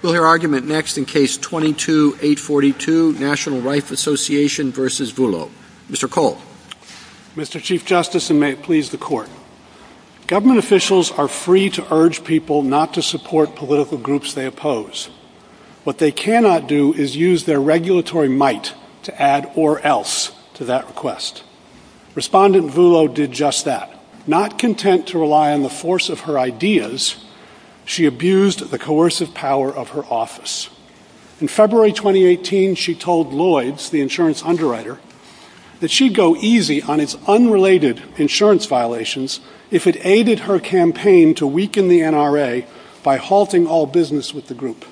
Government officials are free to urge people not to support political groups they oppose. What they cannot do is use their regulatory might to add or else to that request. Respondent Vullo did just that. Not content to rely on the force of her ideas, she abused the coercive power of her office. In February 2018, she told Lloyds, the insurance underwriter, that she'd go easy on its unrelated insurance violations if it aided her campaign to weaken the NRA by halting all business with the group.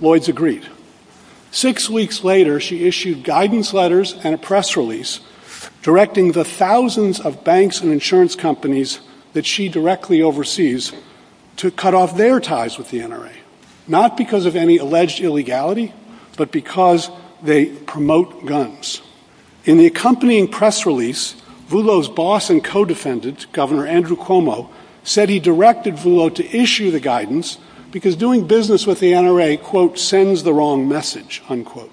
Lloyds agreed. Six weeks later, she issued guidance letters and a press release directing the thousands of banks and insurance companies that she directly oversees to cut off their ties with the NRA, not because of any alleged illegality, but because they promote guns. In the accompanying press release, Vullo's boss and co-defendant, Governor Andrew Cuomo, said he directed Vullo to issue the guidance because doing business with the NRA, quote, sends the wrong message, unquote.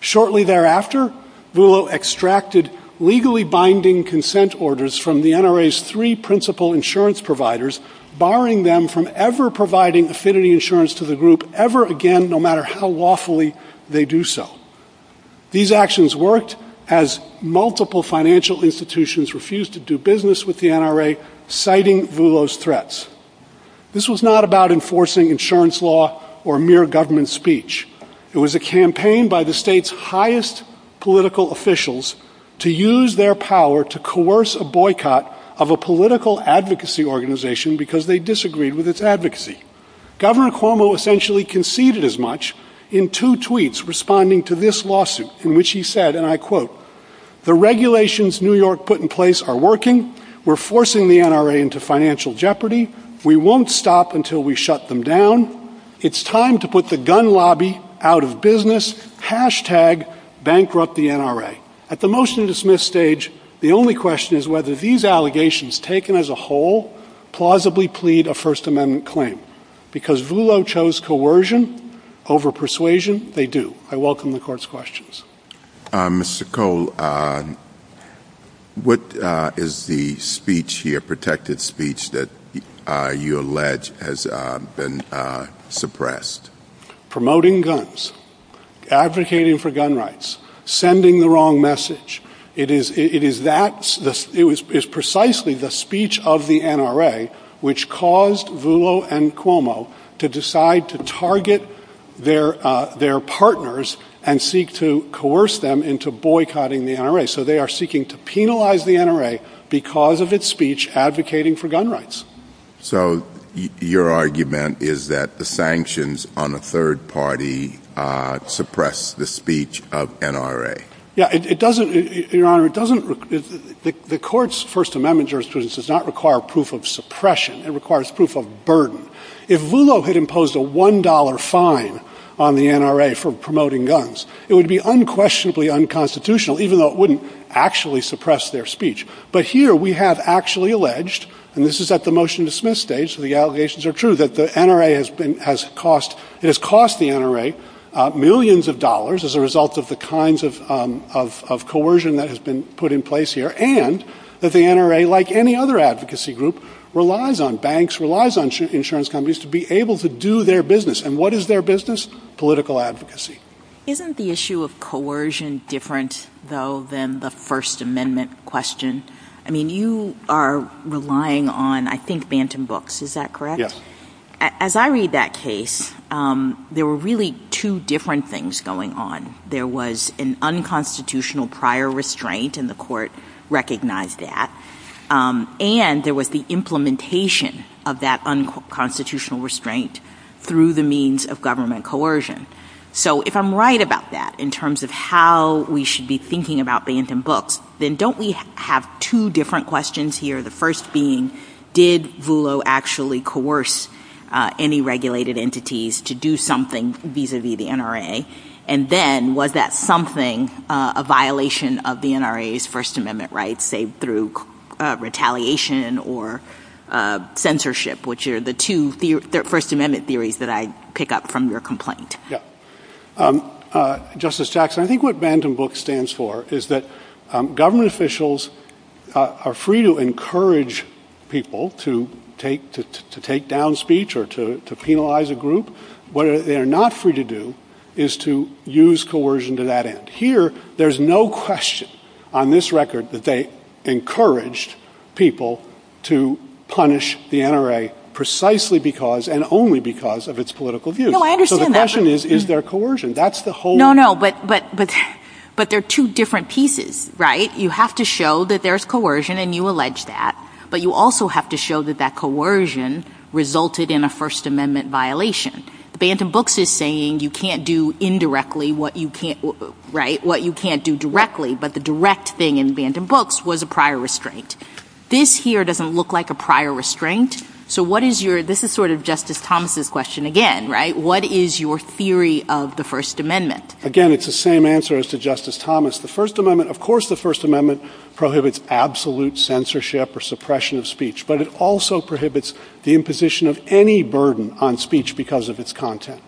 Shortly thereafter, Vullo extracted legally binding consent orders from the NRA's three principal insurance providers, barring them from ever providing affinity insurance to the group ever again, no matter how lawfully they do so. These actions worked as multiple financial institutions refused to do business with the NRA, citing Vullo's threats. This was not about enforcing insurance law or mere government speech. It was a campaign by the state's highest political officials to use their power to coerce a boycott of a political advocacy organization because they disagreed with its advocacy. Governor Cuomo essentially conceded as much in two tweets responding to this lawsuit, in which he said, and I quote, the regulations New York put in place are working. We're forcing the NRA into financial jeopardy. We won't stop until we shut them down. It's time to put the gun lobby out of business. Hashtag bankrupt the NRA. At the motion to dismiss stage, the only question is whether these allegations taken as a whole plausibly plead a First Amendment claim. Because Vullo chose coercion over persuasion, they do. I welcome the court's questions. Mr. Cole, what is the speech here, the protected speech that you allege has been suppressed? Promoting guns. Advocating for gun rights. Sending the wrong message. It is precisely the speech of the NRA which caused Vullo and Cuomo to decide to target their partners So they are seeking to penalize the NRA because of its speech advocating for gun rights. So your argument is that the sanctions on the third party suppress the speech of NRA? Yeah, it doesn't. Your Honor, it doesn't. The court's First Amendment jurisprudence does not require proof of suppression. It requires proof of burden. If Vullo had imposed a one dollar fine on the NRA for promoting guns, it would be unquestionably unconstitutional even though it wouldn't actually suppress their speech. But here we have actually alleged, and this is at the motion to dismiss stage, the allegations are true, that the NRA has cost the NRA millions of dollars as a result of the kinds of coercion that has been put in place here and that the NRA, like any other advocacy group, relies on banks, relies on insurance companies to be able to do their business. And what is their business? Political advocacy. Isn't the issue of coercion different, though, than the First Amendment question? I mean, you are relying on, I think, Bantam Books, is that correct? Yes. As I read that case, there were really two different things going on. There was an unconstitutional prior restraint, and the court recognized that, and there was the implementation of that unconstitutional restraint through the means of government coercion. So if I'm right about that in terms of how we should be thinking about Bantam Books, then don't we have two different questions here, the first being, did Vulo actually coerce any regulated entities to do something vis-à-vis the NRA, and then was that something, a violation of the NRA's First Amendment rights, say, through retaliation or censorship, which are the two First Amendment theories that I pick up from your complaint? Yeah. Justice Jackson, I think what Bantam Books stands for is that government officials are free to encourage people to take down speech or to penalize a group. What they are not free to do is to use coercion to that end. Here, there's no question on this record that they encouraged people to punish the NRA precisely because and only because of its political views. No, I understand that. So the question is, is there coercion? No, no, but they're two different pieces, right? You have to show that there's coercion, and you allege that, but you also have to show that that coercion resulted in a First Amendment violation. Bantam Books is saying you can't do indirectly what you can't do directly, but the direct thing in Bantam Books was a prior restraint. This here doesn't look like a prior restraint. So this is sort of Justice Thomas' question again, right? What is your theory of the First Amendment? Again, it's the same answer as to Justice Thomas. Of course the First Amendment prohibits absolute censorship or suppression of speech, but it also prohibits the imposition of any burden on speech because of its content.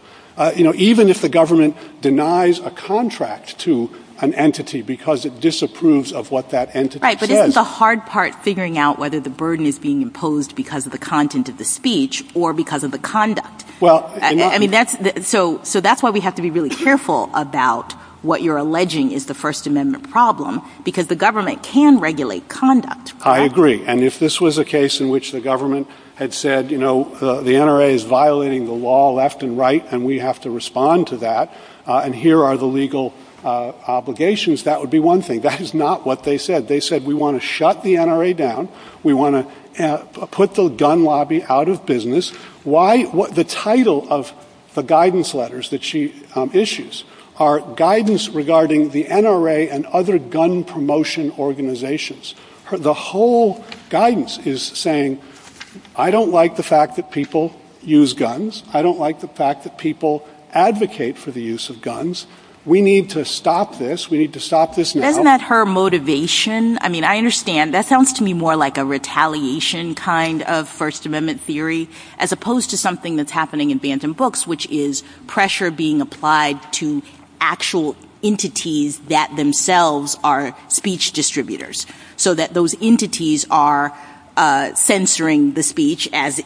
Even if the government denies a contract to an entity because it disapproves of what that entity says. Right, but isn't the hard part figuring out whether the burden is being imposed because of the content of the speech or because of the conduct? So that's why we have to be really careful about what you're alleging is the First Amendment problem, because the government can regulate conduct. I agree. And if this was a case in which the government had said, you know, the NRA is violating the law left and right, and we have to respond to that, and here are the legal obligations, that would be one thing. That is not what they said. They said we want to shut the NRA down. We want to put the gun lobby out of business. The title of the guidance letters that she issues are guidance regarding the NRA and other gun promotion organizations. The whole guidance is saying, I don't like the fact that people use guns. I don't like the fact that people advocate for the use of guns. We need to stop this. We need to stop this now. Isn't that her motivation? I mean, I understand. That sounds to me more like a retaliation kind of First Amendment theory, as opposed to something that's happening in bantam books, which is pressure being applied to actual entities that themselves are speech distributors, so that those entities are censoring the speech as,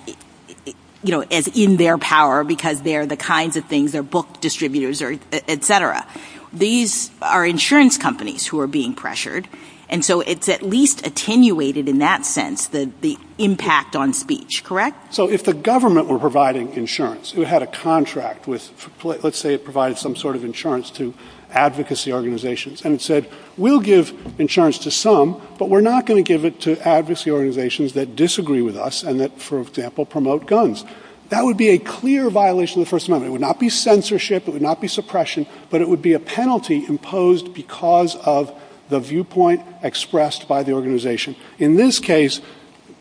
you know, as in their power because they're the kinds of things, they're book distributors, et cetera. These are insurance companies who are being pressured, and so it's at least attenuated in that sense the impact on speech, correct? So if the government were providing insurance, if it had a contract with let's say it provided some sort of insurance to advocacy organizations and said we'll give insurance to some, but we're not going to give it to advocacy organizations that disagree with us and that, for example, promote guns. That would be a clear violation of the First Amendment. It would not be censorship. It would not be suppression. But it would be a penalty imposed because of the viewpoint expressed by the organization. In this case,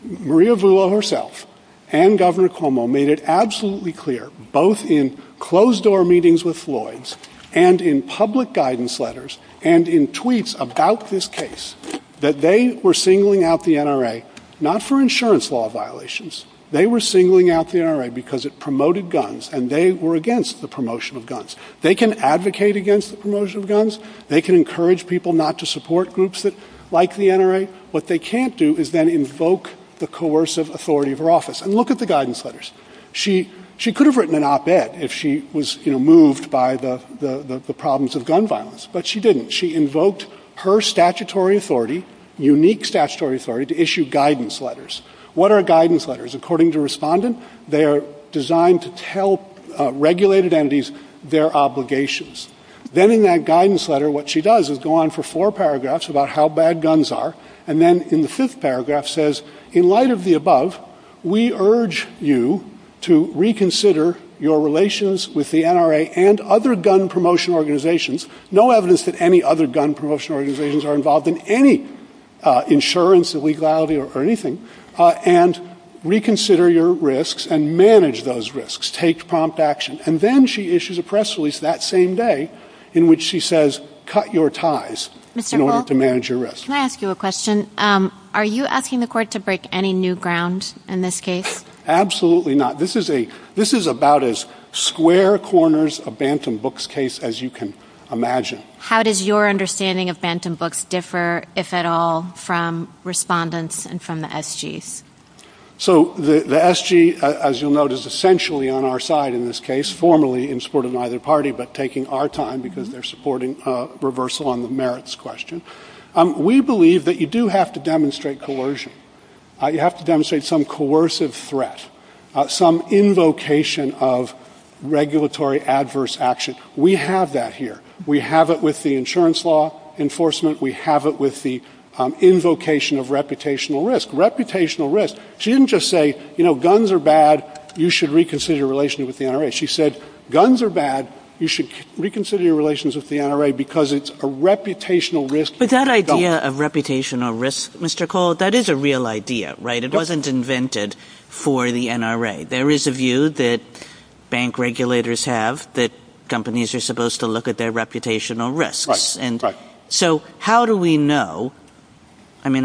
Maria Vrilo herself and Governor Cuomo made it absolutely clear, both in closed-door meetings with Floyds and in public guidance letters and in tweets about this case, that they were singling out the NRA not for insurance law violations. They were singling out the NRA because it promoted guns, and they were against the promotion of guns. They can advocate against the promotion of guns. They can encourage people not to support groups like the NRA. What they can't do is then invoke the coercive authority of her office. And look at the guidance letters. She could have written an op-ed if she was moved by the problems of gun violence, but she didn't. She invoked her statutory authority, unique statutory authority, to issue guidance letters. What are guidance letters? According to Respondent, they are designed to tell regulated entities their obligations. Then in that guidance letter, what she does is go on for four paragraphs about how bad guns are, and then in the fifth paragraph says, in light of the above, we urge you to reconsider your relations with the NRA and other gun promotion organizations, no evidence that any other gun promotion organizations are involved in any insurance, illegality, or anything, and reconsider your risks and manage those risks. Take prompt action. And then she issues a press release that same day in which she says, cut your ties in order to manage your risks. Can I ask you a question? Are you asking the court to break any new ground in this case? Absolutely not. This is about as square corners a Bantam Books case as you can imagine. How does your understanding of Bantam Books differ, if at all, from Respondent's and from the SG's? So the SG, as you'll note, is essentially on our side in this case, formally in support of neither party, but taking our time because they're supporting a reversal on the merits question. We believe that you do have to demonstrate coercion. You have to demonstrate some coercive threat, some invocation of regulatory adverse action. We have that here. We have it with the insurance law enforcement. We have it with the invocation of reputational risk. Reputational risk. She didn't just say, you know, guns are bad. You should reconsider your relations with the NRA. She said, guns are bad. You should reconsider your relations with the NRA because it's a reputational risk. But that idea of reputational risk, Mr. Cole, that is a real idea, right? It wasn't invented for the NRA. There is a view that bank regulators have that companies are supposed to look at their reputational risks. So how do we know? I mean,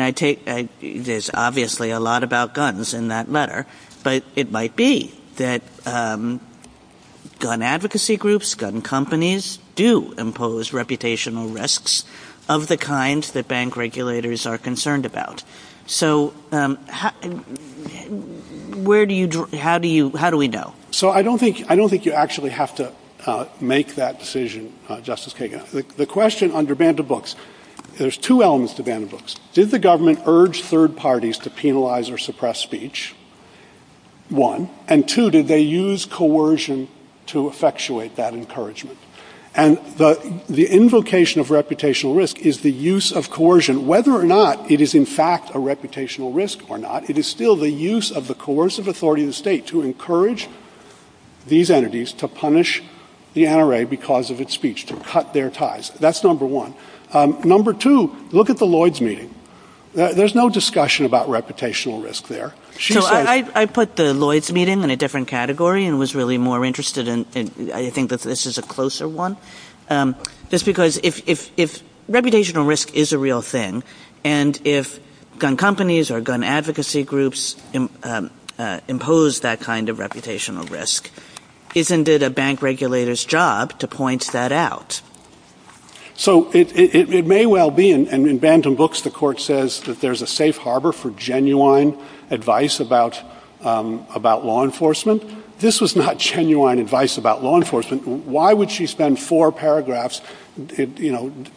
there's obviously a lot about guns in that letter, but it might be that gun advocacy groups, gun companies do impose reputational risks of the kind that bank regulators are concerned about. So how do we know? So I don't think you actually have to make that decision, Justice Kagan. The question under ban to books, there's two elements to ban to books. Did the government urge third parties to penalize or suppress speech, one, and two, did they use coercion to effectuate that encouragement? And the invocation of reputational risk is the use of coercion, whether or not it is in fact a reputational risk or not, it is still the use of the coercive authority of the state to encourage these entities to punish the NRA because of its speech, to cut their ties. That's number one. Number two, look at the Lloyds meeting. There's no discussion about reputational risk there. I put the Lloyds meeting in a different category and was really more interested in I think that this is a closer one. Just because if reputational risk is a real thing and if gun companies or gun advocacy groups impose that kind of reputational risk, isn't it a bank regulator's job to point that out? So it may well be, and in ban to books the court says that there's a safe harbor for genuine advice about law enforcement. This was not genuine advice about law enforcement. Why would she spend four paragraphs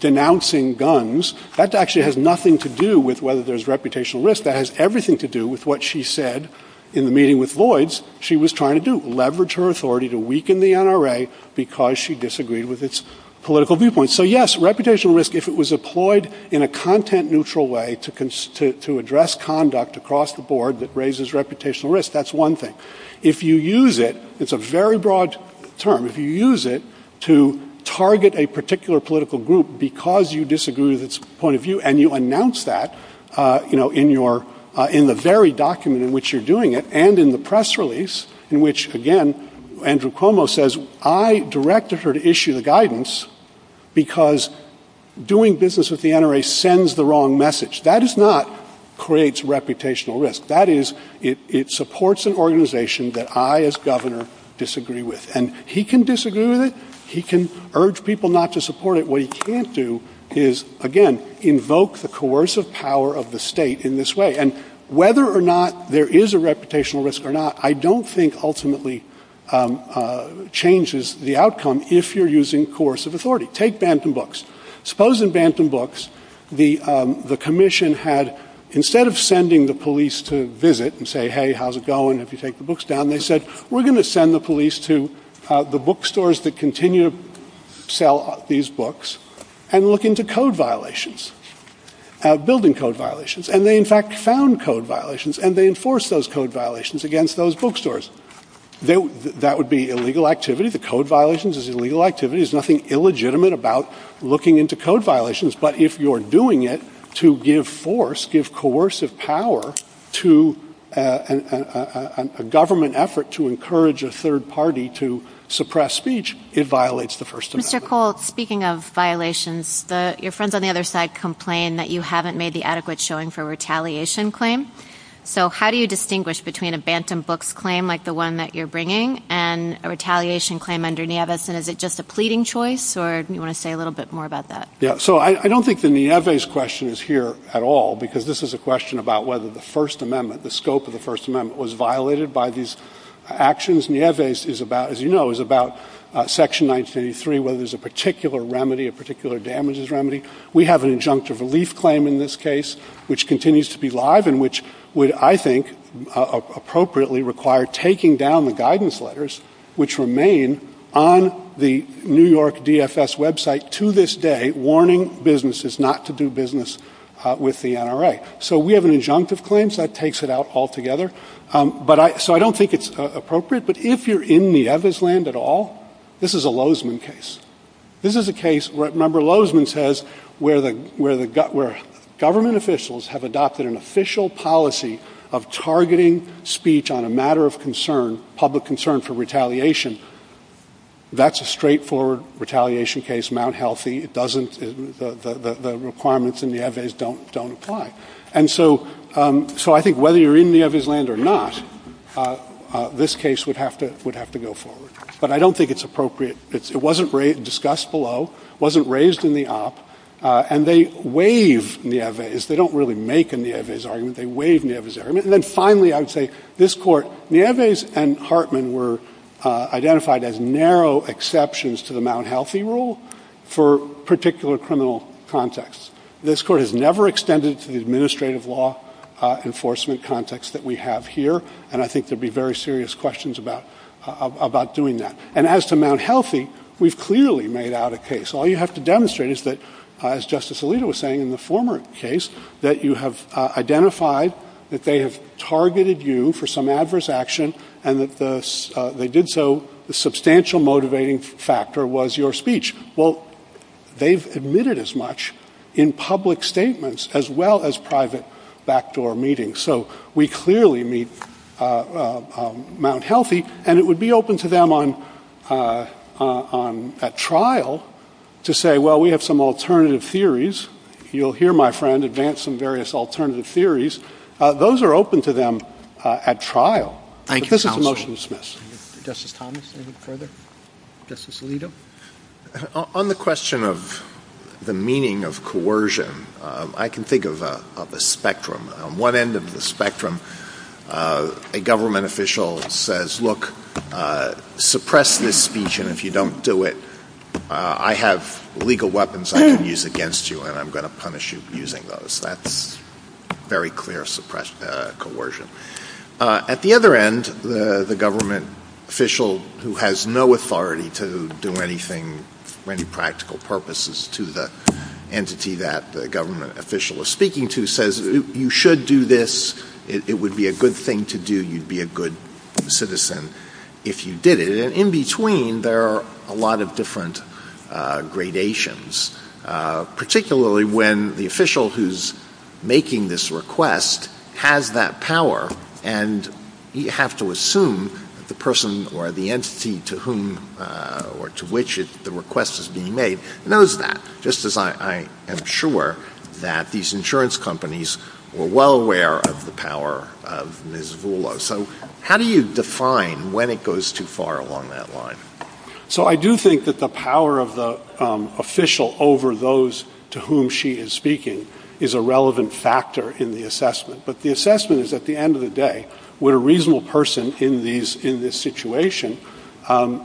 denouncing guns? That actually has nothing to do with whether there's reputational risk. That has everything to do with what she said in the meeting with Lloyds she was trying to do, to weaken the NRA because she disagreed with its political viewpoint. So yes, reputational risk, if it was employed in a content neutral way to address conduct across the board that raises reputational risk, that's one thing. If you use it, it's a very broad term. If you use it to target a particular political group because you disagree with its point of view and you announce that in the very document in which you're doing it and in the press release in which, again, Andrew Cuomo says, I directed her to issue the guidance because doing business with the NRA sends the wrong message. That does not create reputational risk. That is, it supports an organization that I as governor disagree with. And he can disagree with it. He can urge people not to support it. What he can't do is, again, invoke the coercive power of the state in this way. And whether or not there is a reputational risk or not, I don't think ultimately changes the outcome if you're using coercive authority. Take Bantam Books. Suppose in Bantam Books the commission had, instead of sending the police to visit and say, hey, how's it going, if you take the books down, they said, we're going to send the police to the bookstores that continue to sell these books and look into code violations, building code violations. And they, in fact, found code violations, and they enforced those code violations against those bookstores. That would be illegal activity. The code violations is illegal activity. There's nothing illegitimate about looking into code violations. But if you're doing it to give force, give coercive power to a government effort to encourage a third party to suppress speech, it violates the first amendment. Mr. Colt, speaking of violations, your friends on the other side complained that you haven't made the adequate showing for a retaliation claim. So how do you distinguish between a Bantam Books claim like the one that you're bringing and a retaliation claim under Nieves? And is it just a pleading choice, or do you want to say a little bit more about that? So I don't think the Nieves question is here at all, because this is a question about whether the First Amendment, the scope of the First Amendment, was violated by these actions. Nieves is about, as you know, is about Section 933, whether there's a particular remedy, a particular damages remedy. We have an injunctive relief claim in this case, which continues to be live and which would, I think, appropriately require taking down the guidance letters, which remain on the New York DFS website to this day, warning businesses not to do business with the NRA. So we have an injunctive claim, so that takes it out altogether. So I don't think it's appropriate. But if you're in Nieves' land at all, this is a Lozman case. This is a case, remember Lozman says, where government officials have adopted an official policy of targeting speech on a matter of concern, public concern for retaliation. That's a straightforward retaliation case, Mount Healthy. The requirements in Nieves don't apply. And so I think whether you're in Nieves' land or not, this case would have to go forward. But I don't think it's appropriate. It wasn't discussed below. It wasn't raised in the op. And they waive Nieves. They don't really make a Nieves argument. They waive Nieves' argument. And then finally, I would say this Court, Nieves and Hartman were identified as narrow exceptions to the Mount Healthy rule for particular criminal contexts. This Court has never extended to the administrative law enforcement context that we have here, and I think there would be very serious questions about doing that. And as to Mount Healthy, we've clearly made out a case. All you have to demonstrate is that, as Justice Alito was saying in the former case, that you have identified that they have targeted you for some adverse action and that they did so, the substantial motivating factor was your speech. Well, they've admitted as much in public statements as well as private backdoor meetings. So we clearly meet Mount Healthy, and it would be open to them at trial to say, well, we have some alternative theories. You'll hear my friend advance some various alternative theories. Those are open to them at trial. But this is a motion to dismiss. Justice Thomas, anything further? Justice Alito? On the question of the meaning of coercion, I can think of a spectrum. On one end of the spectrum, a government official says, look, suppress this speech, and if you don't do it, I have legal weapons I can use against you, and I'm going to punish you for using those. That's very clear coercion. At the other end, the government official who has no authority to do anything for any practical purposes to the entity that the government official is speaking to says, you should do this. It would be a good thing to do. You'd be a good citizen if you did it. And in between, there are a lot of different gradations, particularly when the official who's making this request has that power, and you have to assume the person or the entity to whom or to which the request is being made knows that, just as I am sure that these insurance companies were well aware of the power of Ms. Vulo. So how do you define when it goes too far along that line? So I do think that the power of the official over those to whom she is speaking is a relevant factor in the assessment. But the assessment is, at the end of the day, would a reasonable person in this situation feel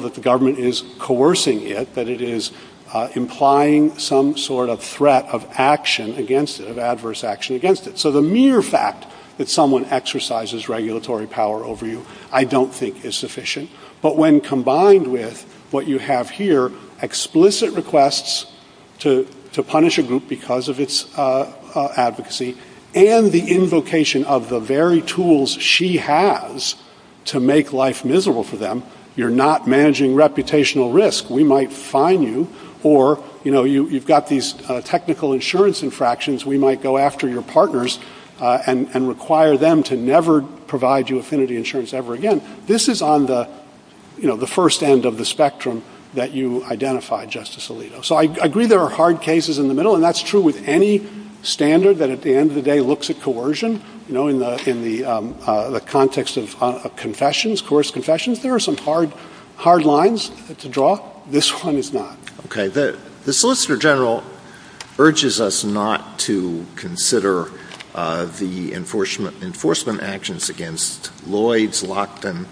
that the government is coercing it, that it is implying some sort of threat of action against it, of adverse action against it? So the mere fact that someone exercises regulatory power over you I don't think is sufficient. But when combined with what you have here, explicit requests to punish a group because of its advocacy, and the invocation of the very tools she has to make life miserable for them, you're not managing reputational risk. We might fine you, or you've got these technical insurance infractions. We might go after your partners and require them to never provide you affinity insurance ever again. This is on the first end of the spectrum that you identified, Justice Alito. So I agree there are hard cases in the middle, and that's true with any standard that at the end of the day looks at coercion. You know, in the context of confessions, coerced confessions, there are some hard lines to draw. This one is not. Okay. The Solicitor General urges us not to consider the enforcement actions against Lloyds, Lockton,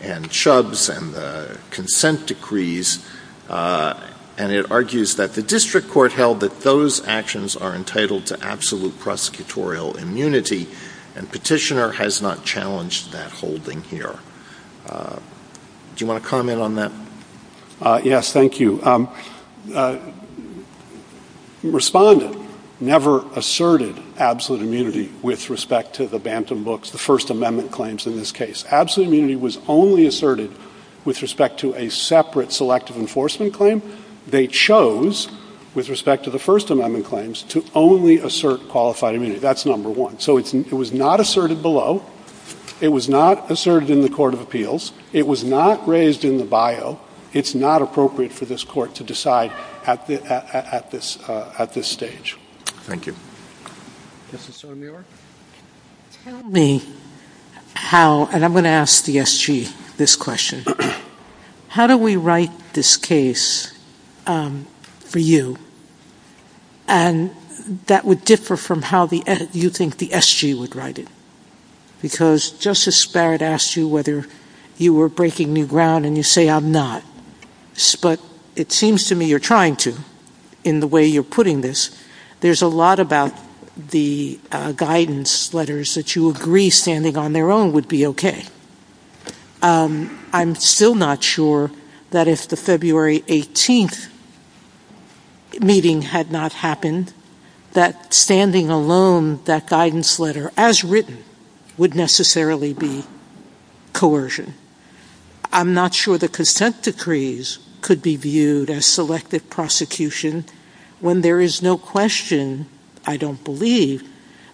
and Chubbs, and the consent decrees, and it argues that the district court held that those actions are entitled to absolute prosecutorial immunity, and Petitioner has not challenged that holding here. Do you want to comment on that? Yes, thank you. Respondent never asserted absolute immunity with respect to the Bantam Books, the First Amendment claims in this case. Absolute immunity was only asserted with respect to a separate selective enforcement claim. They chose, with respect to the First Amendment claims, to only assert qualified immunity. That's number one. So it was not asserted below. It was not asserted in the Court of Appeals. It was not raised in the bio. It's not appropriate for this Court to decide at this stage. Thank you. Justice O'Neill. Tell me how, and I'm going to ask the SG this question, how do we write this case for you? And that would differ from how you think the SG would write it, because Justice Barrett asked you whether you were breaking new ground, and you say, I'm not, but it seems to me you're trying to in the way you're putting this. Well, I'm not. There's a lot about the guidance letters that you agree standing on their own would be okay. I'm still not sure that if the February 18th meeting had not happened, that standing alone, that guidance letter, as written, would necessarily be coercion. And I'm not sure the consent decrees could be viewed as selective prosecution when there is no question, I don't believe,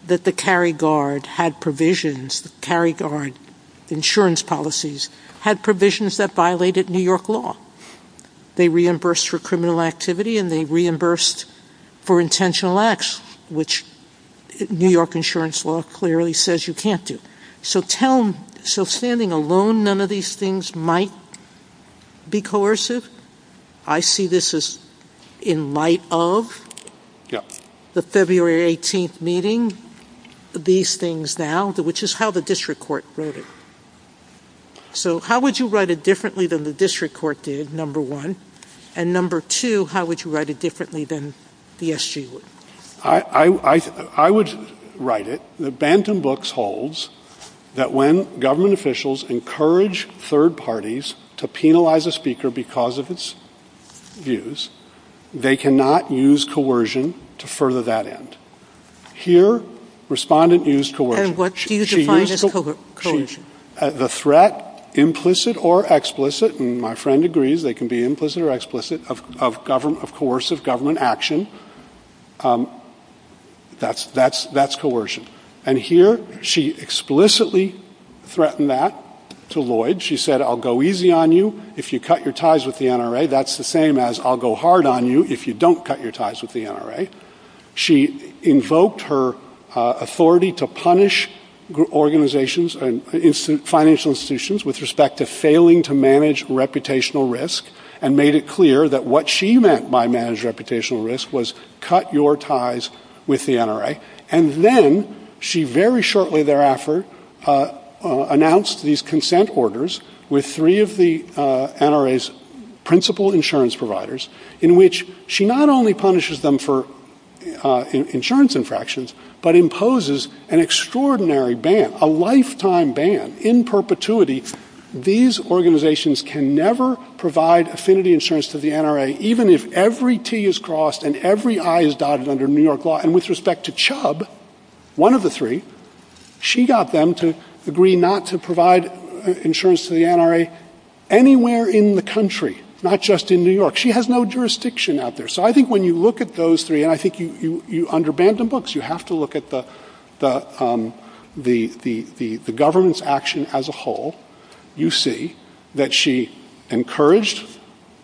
that the carry guard had provisions, carry guard insurance policies, had provisions that violated New York law. They reimbursed for criminal activity, and they reimbursed for intentional acts, which New York insurance law clearly says you can't do. So standing alone, none of these things might be coercive? I see this in light of the February 18th meeting, these things now, which is how the district court wrote it. So how would you write it differently than the district court did, number one? And number two, how would you write it differently than the SG would? I would write it. The Bantam Books holds that when government officials encourage third parties to penalize a speaker because of its views, they cannot use coercion to further that end. Here, respondent used coercion. The threat, implicit or explicit, and my friend agrees they can be implicit or explicit, of coercive government action, that's coercion. And here, she explicitly threatened that to Lloyd. She said, I'll go easy on you if you cut your ties with the NRA. That's the same as I'll go hard on you if you don't cut your ties with the NRA. And here, she said, I'll go hard on you if you don't cut your ties with the NRA. She invoked her authority to punish organizations and financial institutions with respect to failing to manage reputational risk and made it clear that what she meant by managed reputational risk was cut your ties with the NRA. And then, she very shortly thereafter announced these consent orders with three of the NRA's principal insurance providers, in which she not only punishes them for insurance infractions, but imposes an extraordinary ban, a lifetime ban, in perpetuity. These organizations can never provide affinity insurance to the NRA, even if every T is crossed and every I is dotted under New York law. And with respect to Chubb, one of the three, she got them to agree not to provide insurance to the NRA anywhere in the country, not just in New York. She has no jurisdiction out there. So, I think when you look at those three, I think you under banded books. You have to look at the governance action as a whole. You see that she encouraged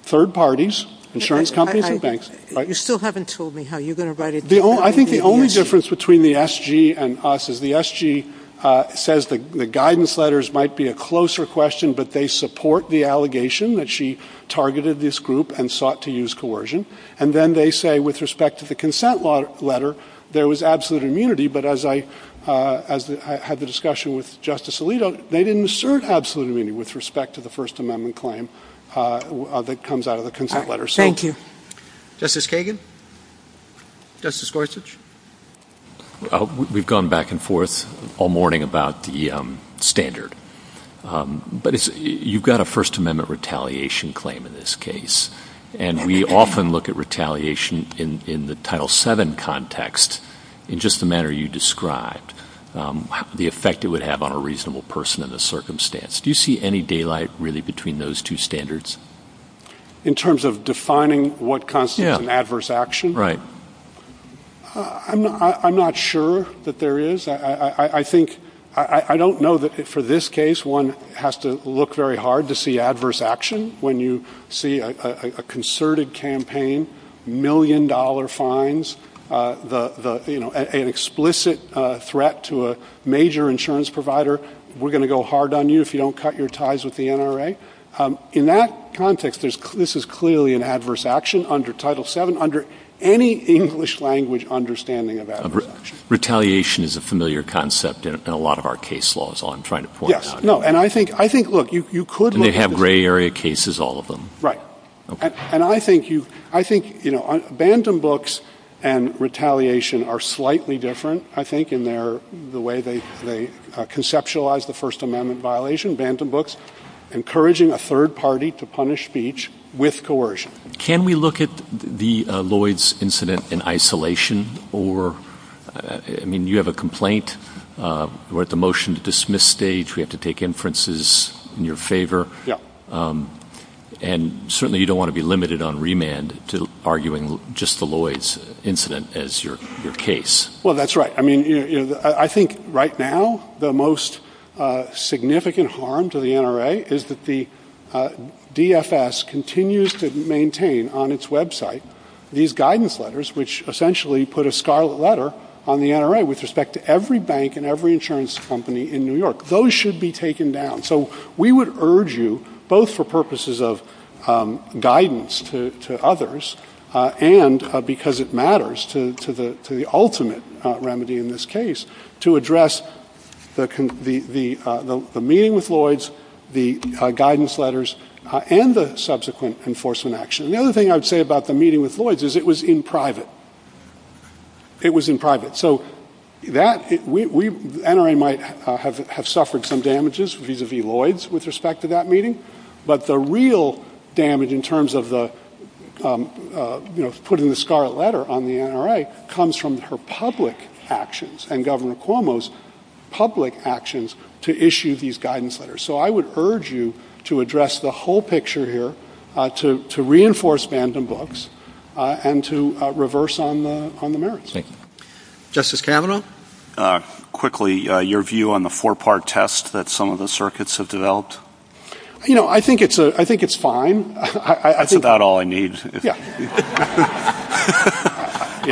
third parties, insurance companies and banks. You still haven't told me how you're going to write it. And then, they say with respect to the consent letter, there was absolute immunity, but as I had the discussion with Justice Alito, they didn't assert absolute immunity with respect to the First Amendment claim that comes out of the consent letter. Thank you. Justice Kagan? Justice Gorsuch? We've gone back and forth all morning about the standard. But you've got a First Amendment retaliation claim in this case. And we often look at retaliation in the Title VII context in just the manner you described, the effect it would have on a reasonable person in this circumstance. Do you see any daylight really between those two standards? In terms of defining what constitutes an adverse action? Right. I'm not sure that there is. I don't know that for this case one has to look very hard to see adverse action. When you see a concerted campaign, million-dollar fines, an explicit threat to a major insurance provider, we're going to go hard on you if you don't cut your ties with the NRA. In that context, this is clearly an adverse action under Title VII, under any English-language understanding of adverse action. Retaliation is a familiar concept in a lot of our case laws, all I'm trying to point out. Yes. No, and I think, look, you could look at- And they have gray area cases, all of them. Right. And I think, you know, Bantam Books and retaliation are slightly different, I think, in the way they conceptualize the First Amendment violation. Bantam Books encouraging a third party to punish speech with coercion. Can we look at the Lloyds incident in isolation? I mean, you have a complaint. We're at the motion-to-dismiss stage. We have to take inferences in your favor. And certainly you don't want to be limited on remand to arguing just the Lloyds incident as your case. Well, that's right. I mean, I think right now the most significant harm to the NRA is that the DFS continues to maintain on its Web site these guidance letters, which essentially put a scarlet letter on the NRA with respect to every bank and every insurance company in New York. Those should be taken down. So we would urge you, both for purposes of guidance to others and because it matters to the ultimate remedy in this case, to address the meeting with Lloyds, the guidance letters, and the subsequent enforcement action. The other thing I would say about the meeting with Lloyds is it was in private. It was in private. So the NRA might have suffered some damages vis-à-vis Lloyds with respect to that meeting, but the real damage in terms of putting the scarlet letter on the NRA comes from her public actions and Governor Cuomo's public actions to issue these guidance letters. So I would urge you to address the whole picture here, to reinforce Banden books, and to reverse on the merits. Justice Kavanaugh? Quickly, your view on the four-part test that some of the circuits have developed? You know, I think it's fine. That's about all I need. Yeah.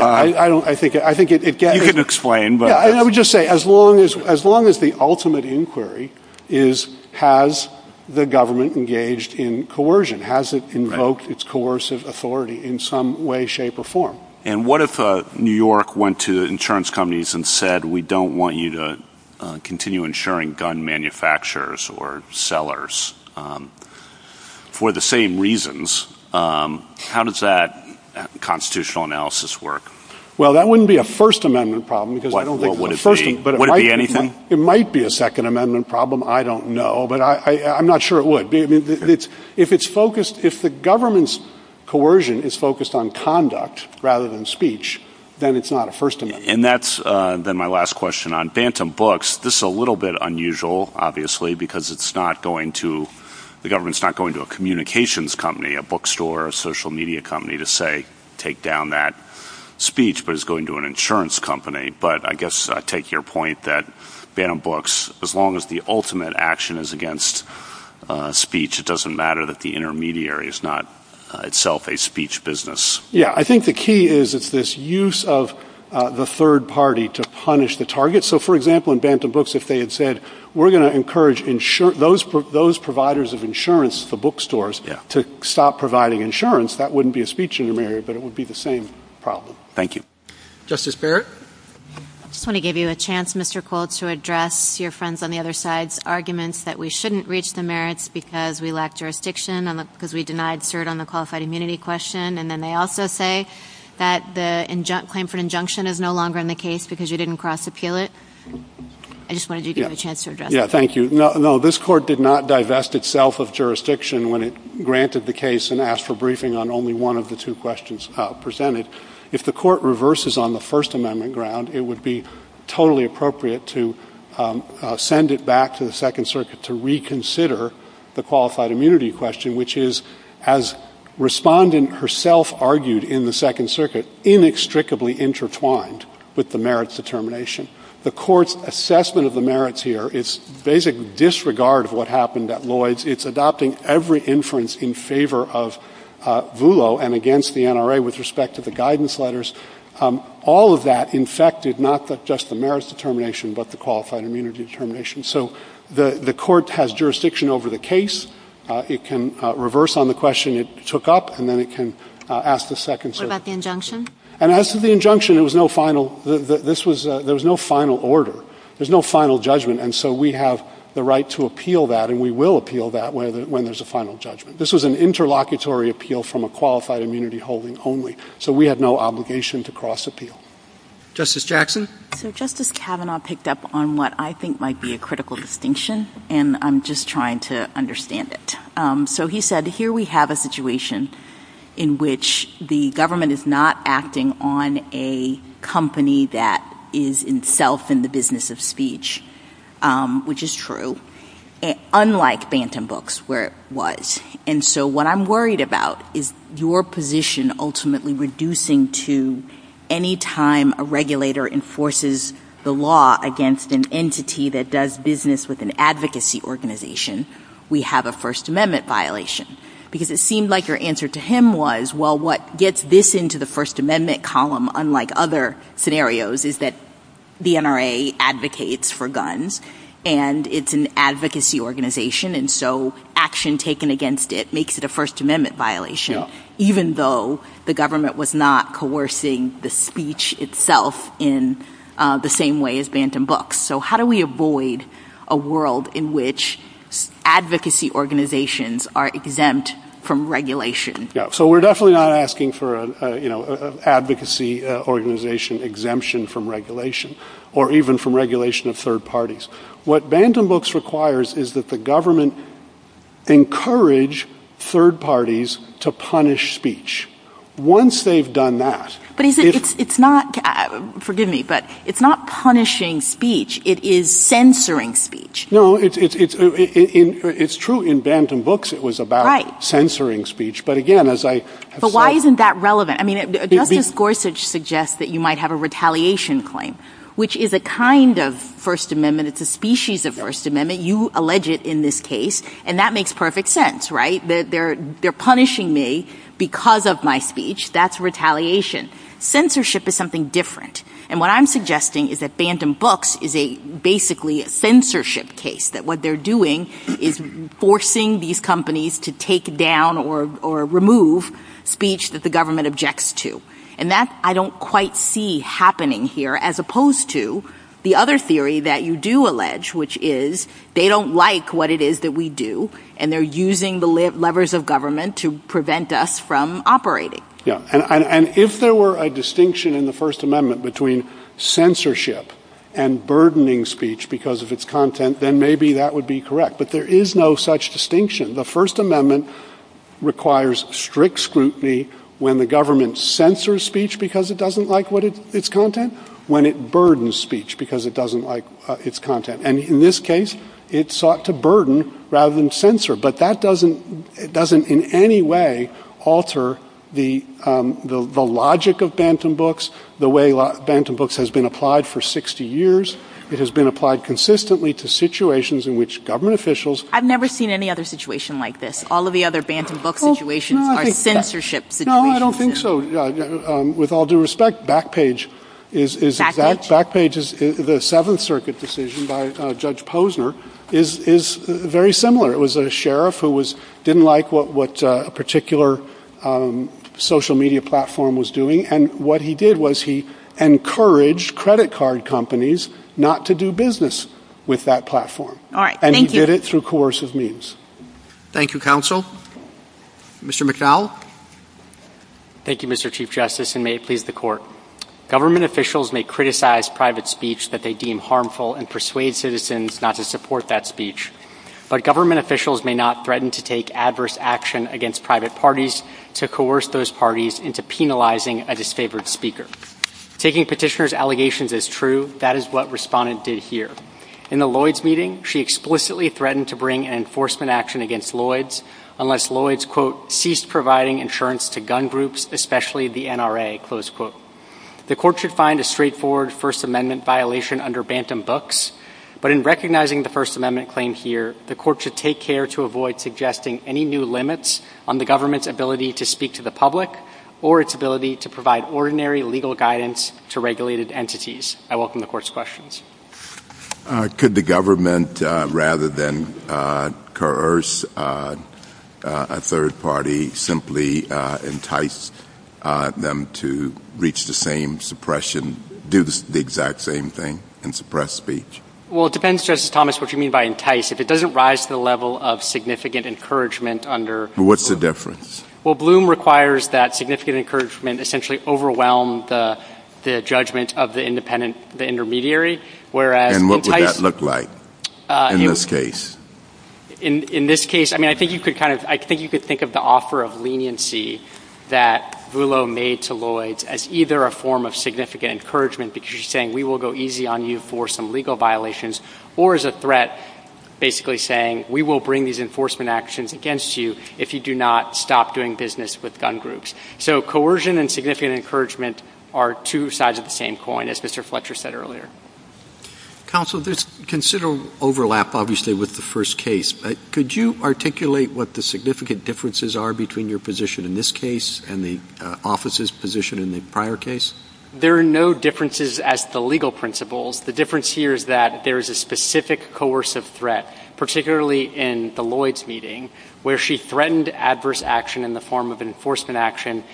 I think it gets— You can explain. I would just say as long as the ultimate inquiry is, has the government engaged in coercion? Has it invoked its coercive authority in some way, shape, or form? And what if New York went to insurance companies and said, we don't want you to continue insuring gun manufacturers or sellers for the same reasons? How does that constitutional analysis work? Well, that wouldn't be a First Amendment problem. Would it be anything? It might be a Second Amendment problem. I don't know, but I'm not sure it would. If the government's coercion is focused on conduct rather than speech, then it's not a First Amendment. And that's my last question. On Banten books, this is a little bit unusual, obviously, because the government's not going to a communications company, a bookstore, or a social media company to, say, take down that speech, but it's going to an insurance company. But I guess I take your point that Banten books, as long as the ultimate action is against speech, it doesn't matter that the intermediary is not itself a speech business. Yeah. I think the key is it's this use of the third party to punish the target. So, for example, in Banten books, if they had said, we're going to encourage those providers of insurance, the bookstores, to stop providing insurance, that wouldn't be a speech intermediary, but it would be the same problem. Thank you. Justice Barrett? I just want to give you a chance, Mr. Cole, to address your friends on the other side's arguments that we shouldn't reach the merits because we lack jurisdiction and because we denied cert on the qualified immunity question. And then they also say that the claim for an injunction is no longer in the case because you didn't cross-appeal it. I just wanted you to give a chance to address that. Yeah, thank you. No, this court did not divest itself of jurisdiction when it granted the case and asked for briefing on only one of the two questions presented. If the court reverses on the First Amendment ground, it would be totally appropriate to send it back to the Second Circuit to reconsider the qualified immunity question, which is, as Respondent herself argued in the Second Circuit, inextricably intertwined with the merits determination. The court's assessment of the merits here is basically disregard of what happened at Lloyd's. It's adopting every inference in favor of VULO and against the NRA with respect to the guidance letters. All of that infected not just the merits determination but the qualified immunity determination. So the court has jurisdiction over the case. It can reverse on the question it took up, and then it can ask the Second Circuit. What about the injunction? And as to the injunction, there was no final order. There's no final judgment, and so we have the right to appeal that, and we will appeal that when there's a final judgment. This was an interlocutory appeal from a qualified immunity holding only, so we have no obligation to cross-appeal. Justice Jackson? So Justice Kavanaugh picked up on what I think might be a critical distinction, and I'm just trying to understand it. So he said, here we have a situation in which the government is not acting on a company that is itself in the business of speech, which is true, unlike Bantam Books where it was. And so what I'm worried about is your position ultimately reducing to any time a regulator enforces the law against an entity that does business with an advocacy organization. We have a First Amendment violation. Because it seemed like your answer to him was, well, what gets this into the First Amendment column, unlike other scenarios, is that the NRA advocates for guns, and it's an advocacy organization. And so action taken against it makes it a First Amendment violation, even though the government was not coercing the speech itself in the same way as Bantam Books. So how do we avoid a world in which advocacy organizations are exempt from regulation? So we're definitely not asking for an advocacy organization exemption from regulation, or even from regulation of third parties. What Bantam Books requires is that the government encourage third parties to punish speech. Once they've done that, it's not punishing speech. It is censoring speech. No, it's true. In Bantam Books, it was about censoring speech. But again, as I have said. But why isn't that relevant? I mean, Justice Gorsuch suggests that you might have a retaliation claim, which is a kind of First Amendment. It's a species of First Amendment. You allege it in this case. And that makes perfect sense, right? So they're punishing me because of my speech. That's retaliation. Censorship is something different. And what I'm suggesting is that Bantam Books is basically a censorship case. That what they're doing is forcing these companies to take down or remove speech that the government objects to. And that I don't quite see happening here. As opposed to the other theory that you do allege, which is they don't like what it is that we do. And they're using the levers of government to prevent us from operating. And if there were a distinction in the First Amendment between censorship and burdening speech because of its content, then maybe that would be correct. But there is no such distinction. The First Amendment requires strict scrutiny when the government censors speech because it doesn't like its content, when it burdens speech because it doesn't like its content. And in this case, it sought to burden rather than censor. But that doesn't in any way alter the logic of Bantam Books, the way Bantam Books has been applied for 60 years. It has been applied consistently to situations in which government officials. I've never seen any other situation like this. All of the other Bantam Books situations are censorship situations. No, I don't think so. With all due respect, Backpage is the Seventh Circuit decision by Judge Posner is very similar. It was a sheriff who didn't like what a particular social media platform was doing. And what he did was he encouraged credit card companies not to do business with that platform. And he did it through coercive means. Thank you, Counsel. Mr. McNeil. Thank you, Mr. Chief Justice, and may it please the Court. Government officials may criticize private speech that they deem harmful and persuade citizens not to support that speech. But government officials may not threaten to take adverse action against private parties to coerce those parties into penalizing a disfavored speaker. Taking petitioners' allegations as true, that is what Respondent did here. In the Lloyds meeting, she explicitly threatened to bring an enforcement action against Lloyds unless Lloyds, quote, ceased providing insurance to gun groups, especially the NRA, close quote. The Court should find a straightforward First Amendment violation under Bantam Books, but in recognizing the First Amendment claim here, the Court should take care to avoid suggesting any new limits on the government's ability to speak to the public or its ability to provide ordinary legal guidance to regulated entities. I welcome the Court's questions. Could the government, rather than coerce a third party, simply entice them to reach the same suppression, do the exact same thing and suppress speech? Well, it depends, Justice Thomas, what you mean by entice. If it doesn't rise to the level of significant encouragement under — What's the difference? Well, Bloom requires that significant encouragement essentially overwhelm the judgment of the independent intermediary, whereas — And what would that look like in this case? In this case, I mean, I think you could kind of — I think you could think of the offer of leniency that Vullo made to Lloyds as either a form of significant encouragement, that she's saying we will go easy on you for some legal violations, or as a threat, basically saying we will bring these enforcement actions against you if you do not stop doing business with gun groups. So coercion and significant encouragement are two sides of the same coin, as Mr. Fletcher said earlier. Counsel, consider overlap, obviously, with the first case. Could you articulate what the significant differences are between your position in this case and the office's position in the prior case? There are no differences as to legal principles. The difference here is that there is a specific coercive threat, particularly in the Lloyds meeting, where she threatened adverse action in the form of enforcement action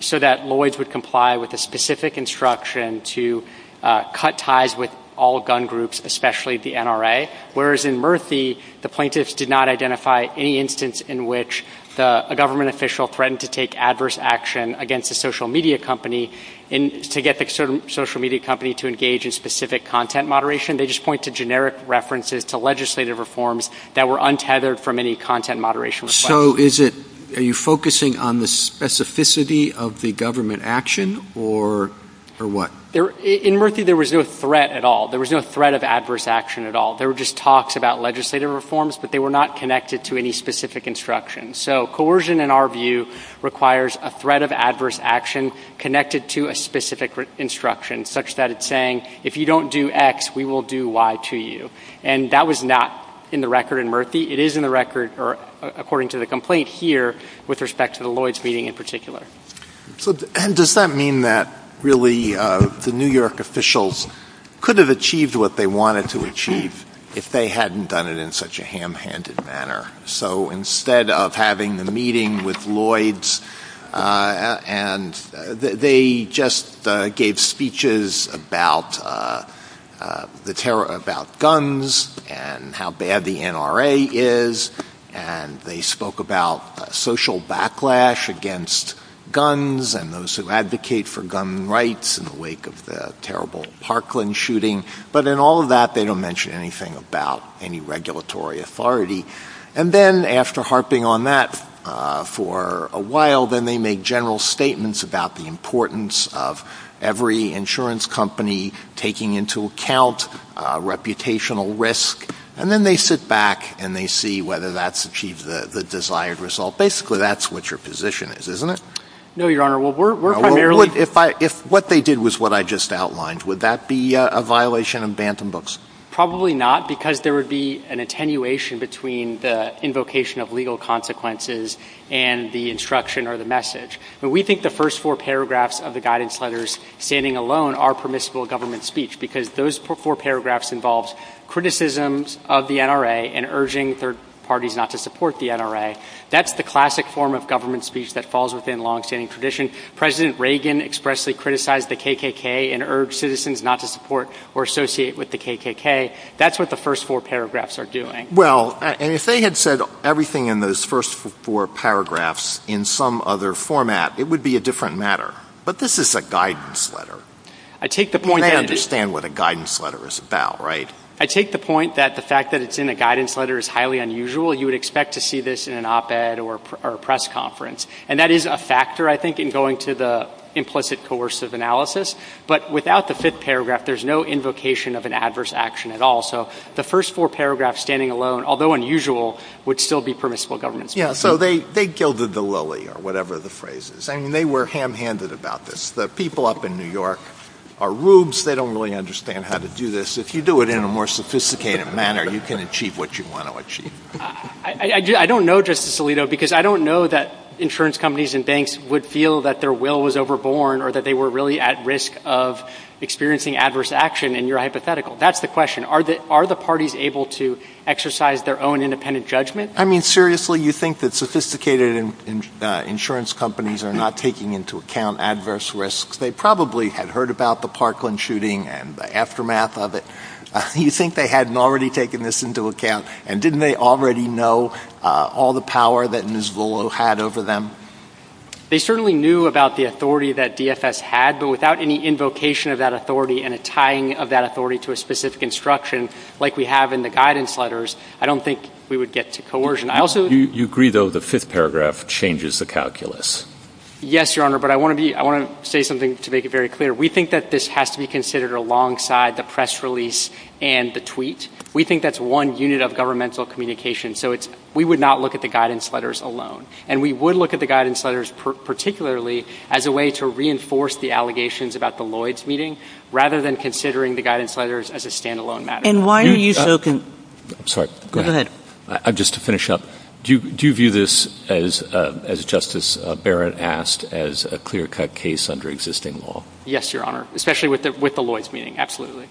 so that Lloyds would comply with a specific instruction to cut ties with all gun groups, especially the NRA, whereas in Murphy, the plaintiffs did not identify any instance in which a government official threatened to take adverse action against a social media company to get the social media company to engage in specific content moderation. They just point to generic references to legislative reforms that were untethered from any content moderation request. So are you focusing on the specificity of the government action, or what? In Murphy, there was no threat at all. There was no threat of adverse action at all. There were just talks about legislative reforms, but they were not connected to any specific instructions. So coercion, in our view, requires a threat of adverse action connected to a specific instruction, such that it's saying, if you don't do X, we will do Y to you. And that was not in the record in Murphy. It is in the record, according to the complaint here, with respect to the Lloyds meeting in particular. And does that mean that, really, the New York officials could have achieved what they wanted to achieve if they hadn't done it in such a ham-handed manner? So instead of having the meeting with Lloyds, they just gave speeches about guns and how bad the NRA is, and they spoke about social backlash against guns and those who advocate for gun rights in the wake of the terrible Parkland shooting. But in all of that, they don't mention anything about any regulatory authority. And then, after harping on that for a while, then they make general statements about the importance of every insurance company taking into account reputational risk. And then they sit back and they see whether that's achieved the desired result. Basically, that's what your position is, isn't it? No, Your Honor. If what they did was what I just outlined, would that be a violation of Bantam Books? Probably not, because there would be an attenuation between the invocation of legal consequences and the instruction or the message. But we think the first four paragraphs of the guidance letters standing alone are permissible government speech because those four paragraphs involve criticisms of the NRA and urging third parties not to support the NRA. That's the classic form of government speech that falls within long-standing tradition. President Reagan expressly criticized the KKK and urged citizens not to support or associate with the KKK. That's what the first four paragraphs are doing. Well, and if they had said everything in those first four paragraphs in some other format, it would be a different matter. But this is a guidance letter. I take the point that the fact that it's in a guidance letter is highly unusual. You would expect to see this in an op-ed or a press conference. And that is a factor, I think, in going to the implicit coercive analysis. But without the fifth paragraph, there's no invocation of an adverse action at all. So the first four paragraphs standing alone, although unusual, would still be permissible government speech. Yeah, so they gilded the lily or whatever the phrase is. I mean, they were ham-handed about this. The people up in New York are rubes. They don't really understand how to do this. If you do it in a more sophisticated manner, you can achieve what you want to achieve. I don't know, Justice Alito, because I don't know that insurance companies and banks would feel that their will was overborne or that they were really at risk of experiencing adverse action, and you're hypothetical. That's the question. Are the parties able to exercise their own independent judgment? I mean, seriously, you think that sophisticated insurance companies are not taking into account adverse risks? They probably had heard about the Parkland shooting and the aftermath of it. You think they hadn't already taken this into account? And didn't they already know all the power that Ms. Volo had over them? They certainly knew about the authority that DFS had, but without any invocation of that authority and a tying of that authority to a specific instruction, like we have in the guidance letters, I don't think we would get to coercion. Do you agree, though, the fifth paragraph changes the calculus? Yes, Your Honor, but I want to say something to make it very clear. We think that this has to be considered alongside the press release and the tweet. We think that's one unit of governmental communication, so we would not look at the guidance letters alone, and we would look at the guidance letters particularly as a way to reinforce the allegations about the Lloyds meeting rather than considering the guidance letters as a standalone matter. And why are you so concerned? Sorry, go ahead. Just to finish up, do you view this, as Justice Barrett asked, as a clear-cut case under existing law? Yes, Your Honor, especially with the Lloyds meeting, absolutely.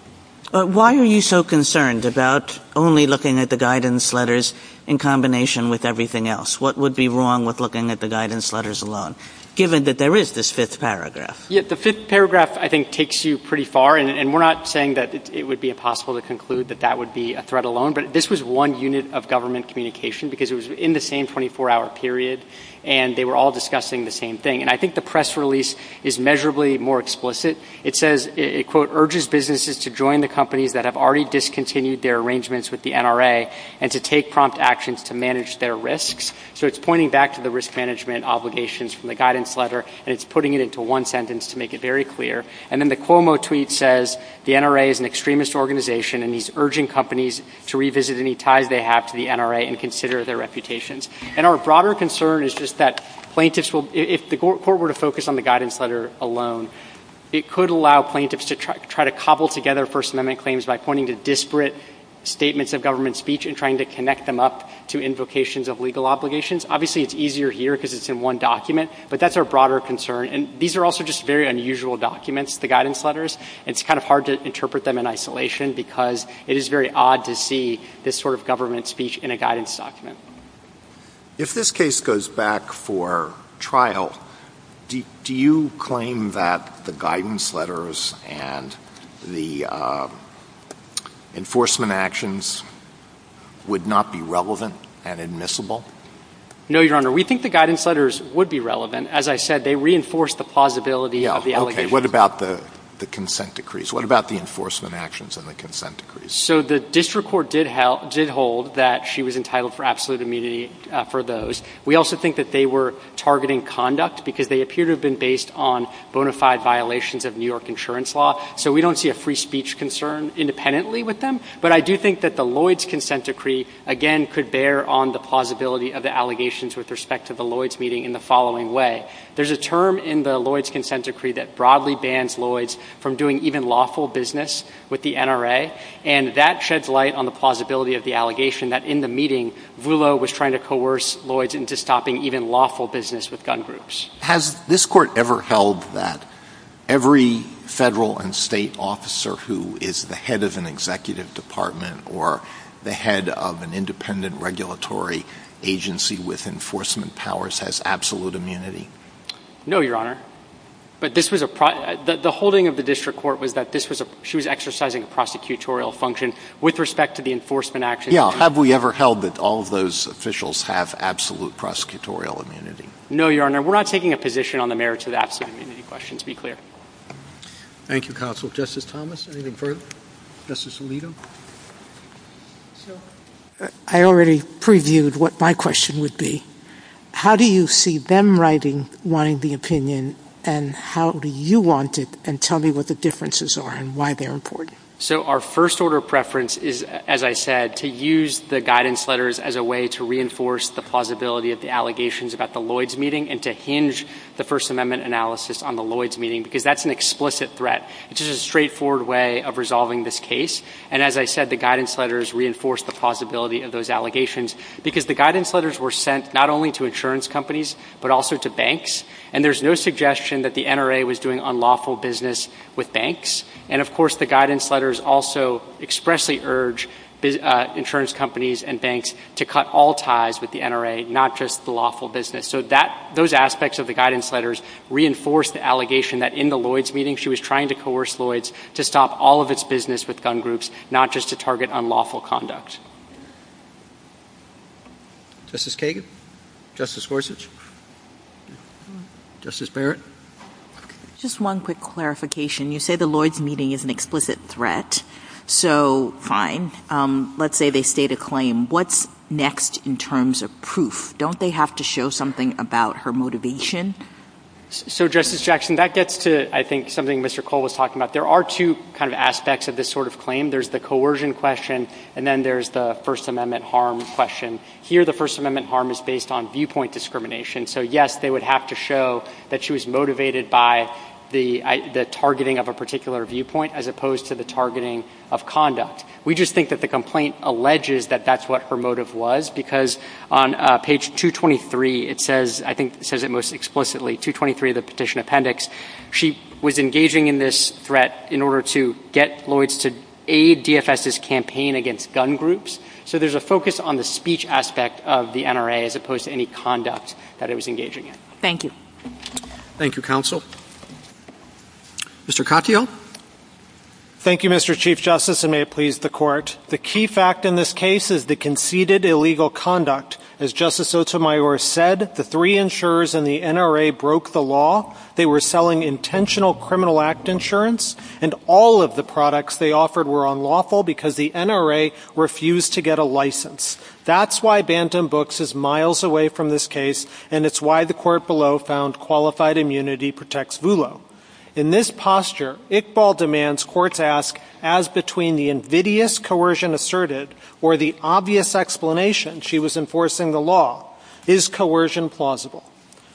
Why are you so concerned about only looking at the guidance letters in combination with everything else? What would be wrong with looking at the guidance letters alone, given that there is this fifth paragraph? The fifth paragraph, I think, takes you pretty far, and we're not saying that it would be impossible to conclude that that would be a threat alone, but this was one unit of government communication because it was in the same 24-hour period and they were all discussing the same thing. And I think the press release is measurably more explicit. It says, it, quote, urges businesses to join the companies that have already discontinued their arrangements with the NRA and to take prompt actions to manage their risks. So it's pointing back to the risk management obligations from the guidance letter and it's putting it into one sentence to make it very clear. And then the Cuomo tweet says the NRA is an extremist organization and is urging companies to revisit any ties they have to the NRA and consider their reputations. And our broader concern is just that plaintiffs will, if the court were to focus on the guidance letter alone, it could allow plaintiffs to try to cobble together First Amendment claims by pointing to disparate statements of government speech and trying to connect them up to invocations of legal obligations. Obviously, it's easier here because it's in one document, but that's our broader concern. And these are also just very unusual documents, the guidance letters. It's kind of hard to interpret them in isolation because it is very odd to see this sort of government speech in a guidance document. If this case goes back for trial, do you claim that the guidance letters and the enforcement actions would not be relevant and admissible? No, Your Honor. We think the guidance letters would be relevant. As I said, they reinforce the plausibility of the allegations. Okay. What about the consent decrees? What about the enforcement actions and the consent decrees? So the district court did hold that she was entitled for absolute immunity for those. We also think that they were targeting conduct because they appear to have been based on bona fide violations of New York insurance law. So we don't see a free speech concern independently with them. But I do think that the Lloyds consent decree, again, could bear on the plausibility of the allegations with respect to the Lloyds meeting in the following way. There's a term in the Lloyds consent decree that broadly bans Lloyds from doing even lawful business with the NRA. And that sheds light on the plausibility of the allegation that in the meeting, Vulo was trying to coerce Lloyds into stopping even lawful business with gun groups. Has this court ever held that every federal and state officer who is the head of an executive department or the head of an independent regulatory agency with enforcement powers has absolute immunity? No, Your Honor. But the holding of the district court was that she was exercising a prosecutorial function with respect to the enforcement actions. Yeah. Have we ever held that all of those officials have absolute prosecutorial immunity? No, Your Honor. We're not taking a position on the merits of the absolute immunity question, to be clear. Thank you, Counsel. Justice Thomas, anything further? Justice Alito? I already previewed what my question would be. How do you see them writing the opinion, and how do you want it, and tell me what the differences are and why they're important? So our first order of preference is, as I said, to use the guidance letters as a way to reinforce the plausibility of the allegations about the Lloyds meeting and to hinge the First Amendment analysis on the Lloyds meeting because that's an explicit threat. It's just a straightforward way of resolving this case. And as I said, the guidance letters reinforce the plausibility of those allegations because the guidance letters were sent not only to insurance companies but also to banks, and there's no suggestion that the NRA was doing unlawful business with banks. And, of course, the guidance letters also expressly urge insurance companies and banks to cut all ties with the NRA, not just the lawful business. So those aspects of the guidance letters reinforce the allegation that in the Lloyds meeting, she was trying to coerce Lloyds to stop all of its business with gun groups, not just to target unlawful conduct. Justice Kagan? Justice Gorsuch? Justice Barrett? Just one quick clarification. You say the Lloyds meeting is an explicit threat. So, fine. Let's say they state a claim. What's next in terms of proof? Don't they have to show something about her motivation? So, Justice Jackson, that gets to, I think, something Mr. Cole was talking about. There are two kind of aspects of this sort of claim. There's the coercion question, and then there's the First Amendment harm question. Here, the First Amendment harm is based on viewpoint discrimination. So, yes, they would have to show that she was motivated by the targeting of a particular viewpoint, as opposed to the targeting of conduct. We just think that the complaint alleges that that's what her motive was, because on page 223, it says, I think it says it most explicitly, 223 of the petition appendix, she was engaging in this threat in order to get Lloyds to aid DFS's campaign against gun groups. So, there's a focus on the speech aspect of the NRA, as opposed to any conduct that it was engaging in. Thank you. Thank you, Counsel. Mr. Katyal. Thank you, Mr. Chief Justice, and may it please the Court. The key fact in this case is the conceded illegal conduct. As Justice Sotomayor said, the three insurers and the NRA broke the law. They were selling intentional criminal act insurance, and all of the products they offered were unlawful because the NRA refused to get a license. That's why Bantam Books is miles away from this case, and it's why the court below found qualified immunity protects Vulo. In this posture, Iqbal demands courts ask, as between the invidious coercion asserted or the obvious explanation she was enforcing the law, is coercion plausible?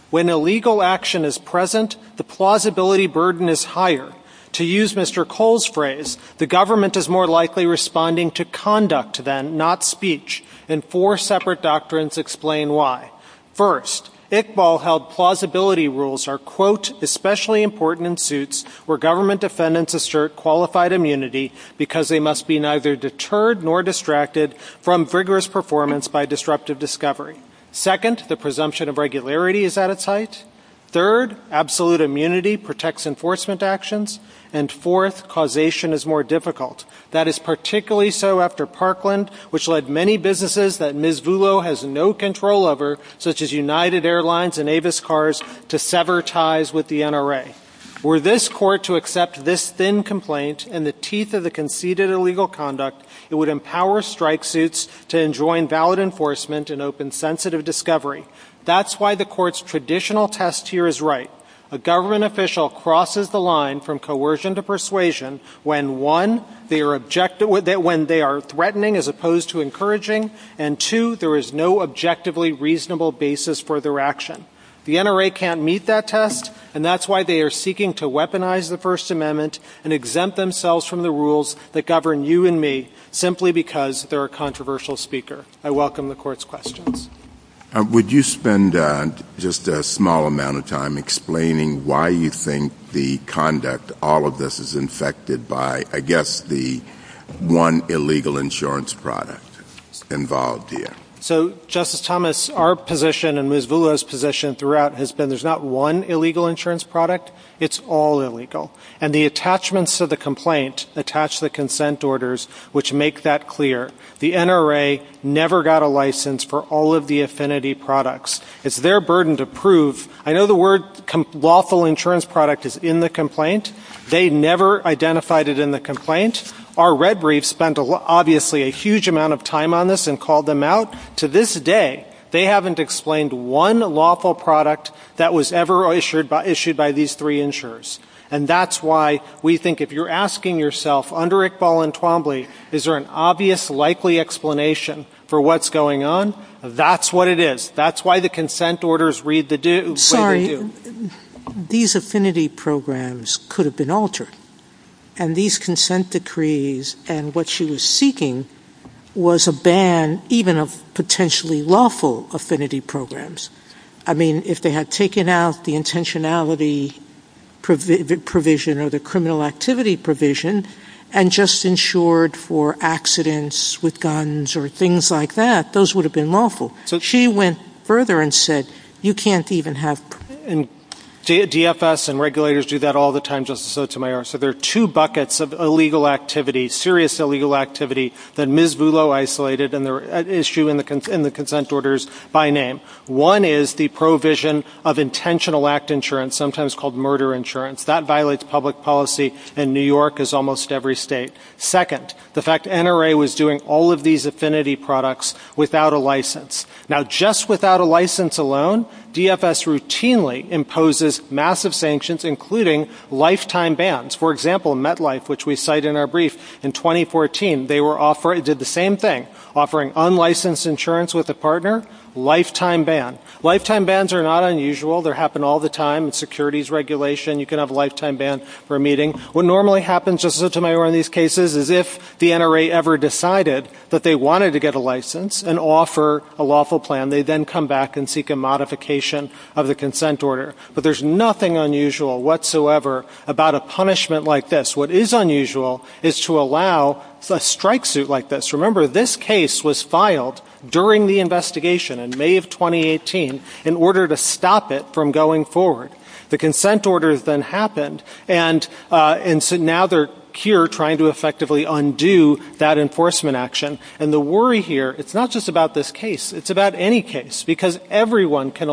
When illegal action is present, the plausibility burden is higher. To use Mr. Cole's phrase, the government is more likely responding to conduct than not speech, and four separate doctrines explain why. First, Iqbal held plausibility rules are, quote, especially important in suits where government defendants assert qualified immunity because they must be neither deterred nor distracted from vigorous performance by disruptive discovery. Second, the presumption of regularity is at its height. Third, absolute immunity protects enforcement actions. And fourth, causation is more difficult. That is particularly so after Parkland, which led many businesses that Ms. Vulo has no control over, such as United Airlines and Avis Cars, to sever ties with the NRA. Were this court to accept this thin complaint and the teeth of the conceded illegal conduct, it would empower strike suits to enjoin valid enforcement and open sensitive discovery. That's why the court's traditional test here is right. A government official crosses the line from coercion to persuasion when, one, they are threatening as opposed to encouraging, and, two, there is no objectively reasonable basis for their action. The NRA can't meet that test, and that's why they are seeking to weaponize the First Amendment and exempt themselves from the rules that govern you and me simply because they're a controversial speaker. I welcome the court's questions. Would you spend just a small amount of time explaining why you think the conduct, all of this, is infected by, I guess, the one illegal insurance product involved here? So, Justice Thomas, our position and Ms. Vulo's position throughout has been there's not one illegal insurance product. It's all illegal. And the attachments to the complaint attach the consent orders, which make that clear. The NRA never got a license for all of the affinity products. It's their burden to prove. I know the word lawful insurance product is in the complaint. They never identified it in the complaint. Our red briefs spent, obviously, a huge amount of time on this and called them out. To this day, they haven't explained one lawful product that was ever issued by these three insurers. And that's why we think if you're asking yourself under Iqbal and Twombly, is there an obvious, likely explanation for what's going on? That's what it is. That's why the consent orders read the way they do. Sorry. These affinity programs could have been altered. And these consent decrees and what she was seeking was a ban even of potentially lawful affinity programs. I mean, if they had taken out the intentionality provision or the criminal activity provision and just insured for accidents with guns or things like that, those would have been lawful. So she went further and said, you can't even have – DFS and regulators do that all the time, Justice Sotomayor. So there are two buckets of illegal activity, serious illegal activity, that Ms. Vullo isolated and they're an issue in the consent orders by name. One is the provision of intentional act insurance, sometimes called murder insurance. That violates public policy in New York as almost every state. Second, the fact NRA was doing all of these affinity products without a license. Now, just without a license alone, DFS routinely imposes massive sanctions, including lifetime bans. For example, MetLife, which we cite in our brief, in 2014, they did the same thing, offering unlicensed insurance with a partner, lifetime ban. Lifetime bans are not unusual. They happen all the time in securities regulation. You can have a lifetime ban for a meeting. What normally happens, Justice Sotomayor, in these cases is if the NRA ever decided that they wanted to get a license and offer a lawful plan, they then come back and seek a modification of the consent order. But there's nothing unusual whatsoever about a punishment like this. What is unusual is to allow a strike suit like this. Remember, this case was filed during the investigation in May of 2018 in order to stop it from going forward. The consent order then happened, and so now they're here trying to effectively undo that enforcement action. And the worry here, it's not just about this case. It's about any case, because everyone can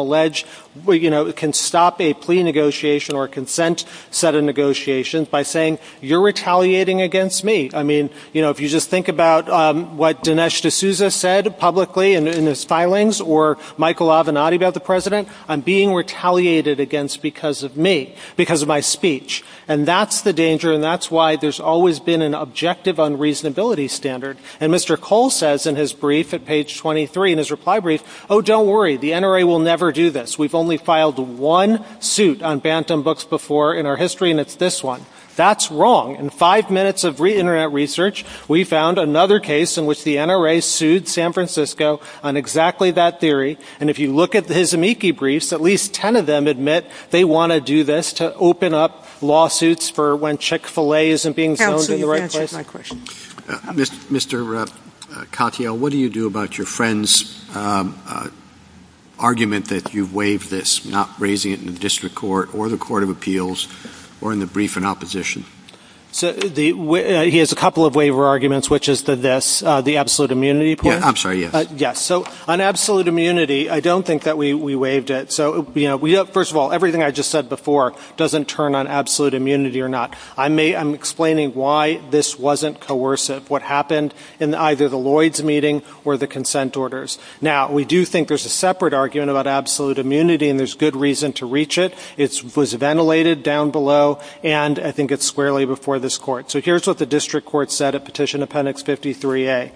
stop a plea negotiation or a consent set of negotiations by saying, you're retaliating against me. I mean, if you just think about what Dinesh D'Souza said publicly in his filings or Michael Avenatti about the president, I'm being retaliated against because of me, because of my speech. And that's the danger, and that's why there's always been an objective unreasonability standard. And Mr. Cole says in his brief at page 23, in his reply brief, oh, don't worry, the NRA will never do this. We've only filed one suit on Bantam Books before in our history, and it's this one. That's wrong. In five minutes of re-internet research, we found another case in which the NRA sued San Francisco on exactly that theory. And if you look at his amici briefs, at least 10 of them admit they want to do this to open up lawsuits for when Chick-fil-A isn't being sold in the right place. Mr. Katyal, what do you do about your friend's argument that you waived this, not raising it in the district court or the court of appeals or in the brief in opposition? He has a couple of waiver arguments, which is this, the absolute immunity point. I'm sorry, yes. Yes, so on absolute immunity, I don't think that we waived it. So, you know, first of all, everything I just said before doesn't turn on absolute immunity or not. I'm explaining why this wasn't coercive, what happened in either the Lloyds meeting or the consent orders. Now, we do think there's a separate argument about absolute immunity, and there's good reason to reach it. It was ventilated down below, and I think it's squarely before this court. So here's what the district court said at Petition Appendix 53A.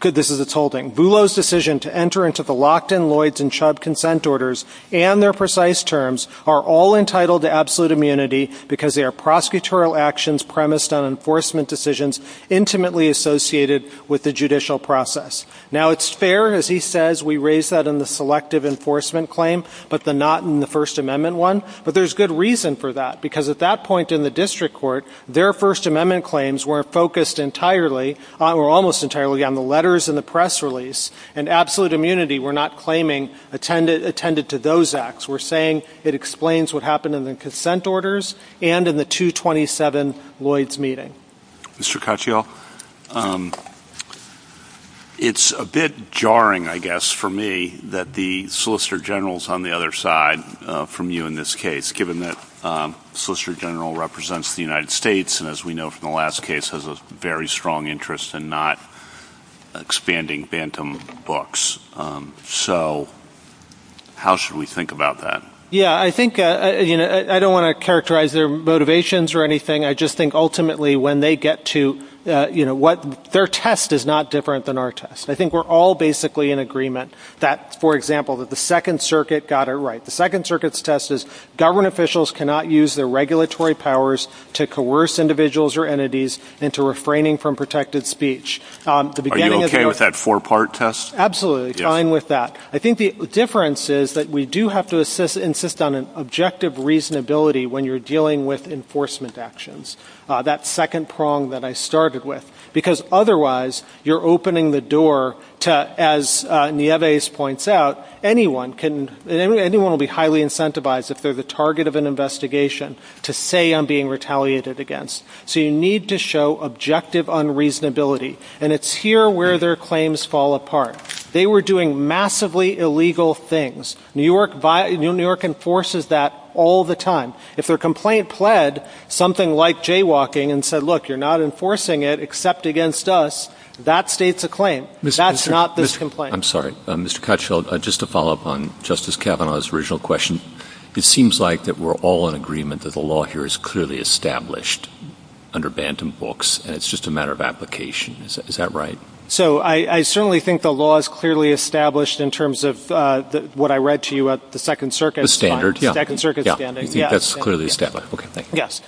This is its holding. Boulos' decision to enter into the Lockton, Lloyds, and Chubb consent orders and their precise terms are all entitled to absolute immunity because they are prosecutorial actions premised on enforcement decisions intimately associated with the judicial process. Now, it's fair, as he says, we raise that in the selective enforcement claim, but not in the First Amendment one. But there's good reason for that, because at that point in the district court, their First Amendment claims were focused entirely or almost entirely on the letters and the press release. And absolute immunity, we're not claiming, attended to those acts. We're saying it explains what happened in the consent orders and in the 227 Lloyds meeting. Mr. Caccio, it's a bit jarring, I guess, for me that the Solicitor General is on the other side from you in this case, given that the Solicitor General represents the United States and, as we know from the last case, has a very strong interest in not expanding phantom books. So how should we think about that? Yeah, I think I don't want to characterize their motivations or anything. I just think ultimately when they get to what their test is not different than our test. I think we're all basically in agreement that, for example, that the Second Circuit got it right. The Second Circuit's test is government officials cannot use their regulatory powers to coerce individuals or entities into refraining from protected speech. Are you OK with that four-part test? Absolutely, fine with that. I think the difference is that we do have to insist on an objective reasonability when you're dealing with enforcement actions, that second prong that I started with, because otherwise you're opening the door to, as Nieves points out, anyone will be highly incentivized if they're the target of an investigation to say I'm being retaliated against. So you need to show objective unreasonability. And it's here where their claims fall apart. They were doing massively illegal things. New York enforces that all the time. If a complaint pled something like jaywalking and said, look, you're not enforcing it except against us, that states a claim. That's not this complaint. I'm sorry. Mr. Cotsfield, just to follow up on Justice Kavanaugh's original question, it seems like that we're all in agreement that the law here is clearly established under bantam books and it's just a matter of application. Is that right? So I certainly think the law is clearly established in terms of what I read to you at the Second Circuit. The standard. The Second Circuit standard. That's clearly established. Yes.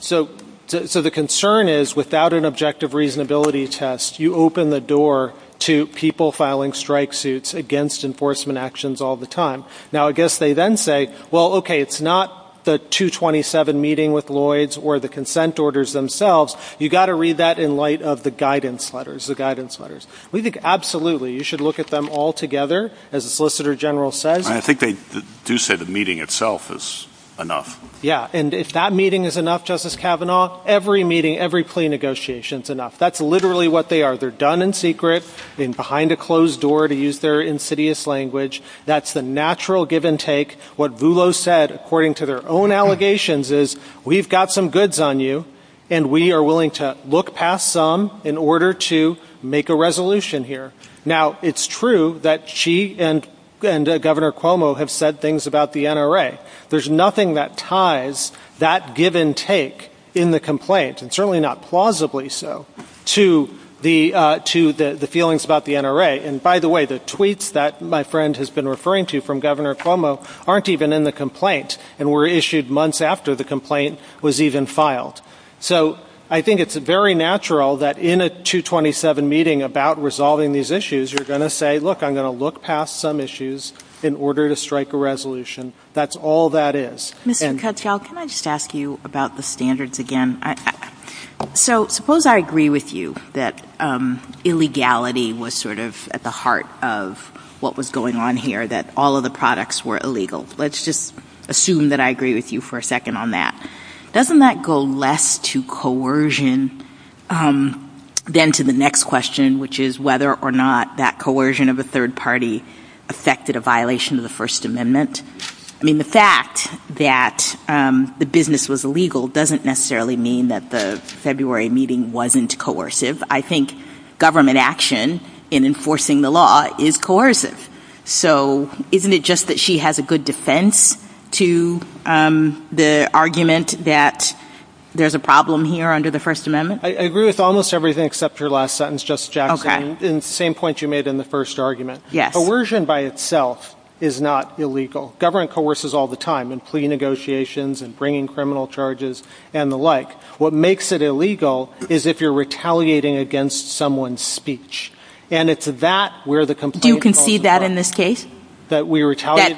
So the concern is without an objective reasonability test, you open the door to people filing strike suits against enforcement actions all the time. Now, I guess they then say, well, okay, it's not the 227 meeting with Lloyds or the consent orders themselves. You've got to read that in light of the guidance letters, the guidance letters. We think absolutely you should look at them all together as a solicitor general says. I think they do say the meeting itself is enough. Yeah. And if that meeting is enough, Justice Kavanaugh, every meeting, every plea negotiation is enough. That's literally what they are. They're done in secret and behind a closed door to use their insidious language. That's the natural give and take. What Vulo said, according to their own allegations, is we've got some goods on you, and we are willing to look past some in order to make a resolution here. Now, it's true that she and Governor Cuomo have said things about the NRA. There's nothing that ties that give and take in the complaint, and certainly not plausibly so, to the feelings about the NRA. And, by the way, the tweets that my friend has been referring to from Governor Cuomo aren't even in the complaint and were issued months after the complaint was even filed. So I think it's very natural that in a 227 meeting about resolving these issues, you're going to say, look, I'm going to look past some issues in order to strike a resolution. That's all that is. Mr. Kuchel, can I just ask you about the standards again? So suppose I agree with you that illegality was sort of at the heart of what was going on here, that all of the products were illegal. Let's just assume that I agree with you for a second on that. Doesn't that go less to coercion than to the next question, which is whether or not that coercion of a third party affected a violation of the First Amendment? I mean, the fact that the business was illegal doesn't necessarily mean that the February meeting wasn't coercive. I think government action in enforcing the law is coercive. So isn't it just that she has a good defense to the argument that there's a problem here under the First Amendment? I agree with almost everything except your last sentence, Justice Jackson, and the same point you made in the first argument. Coercion by itself is not illegal. Government coerces all the time in plea negotiations and bringing criminal charges and the like. What makes it illegal is if you're retaliating against someone's speech. Do you concede that in this case? That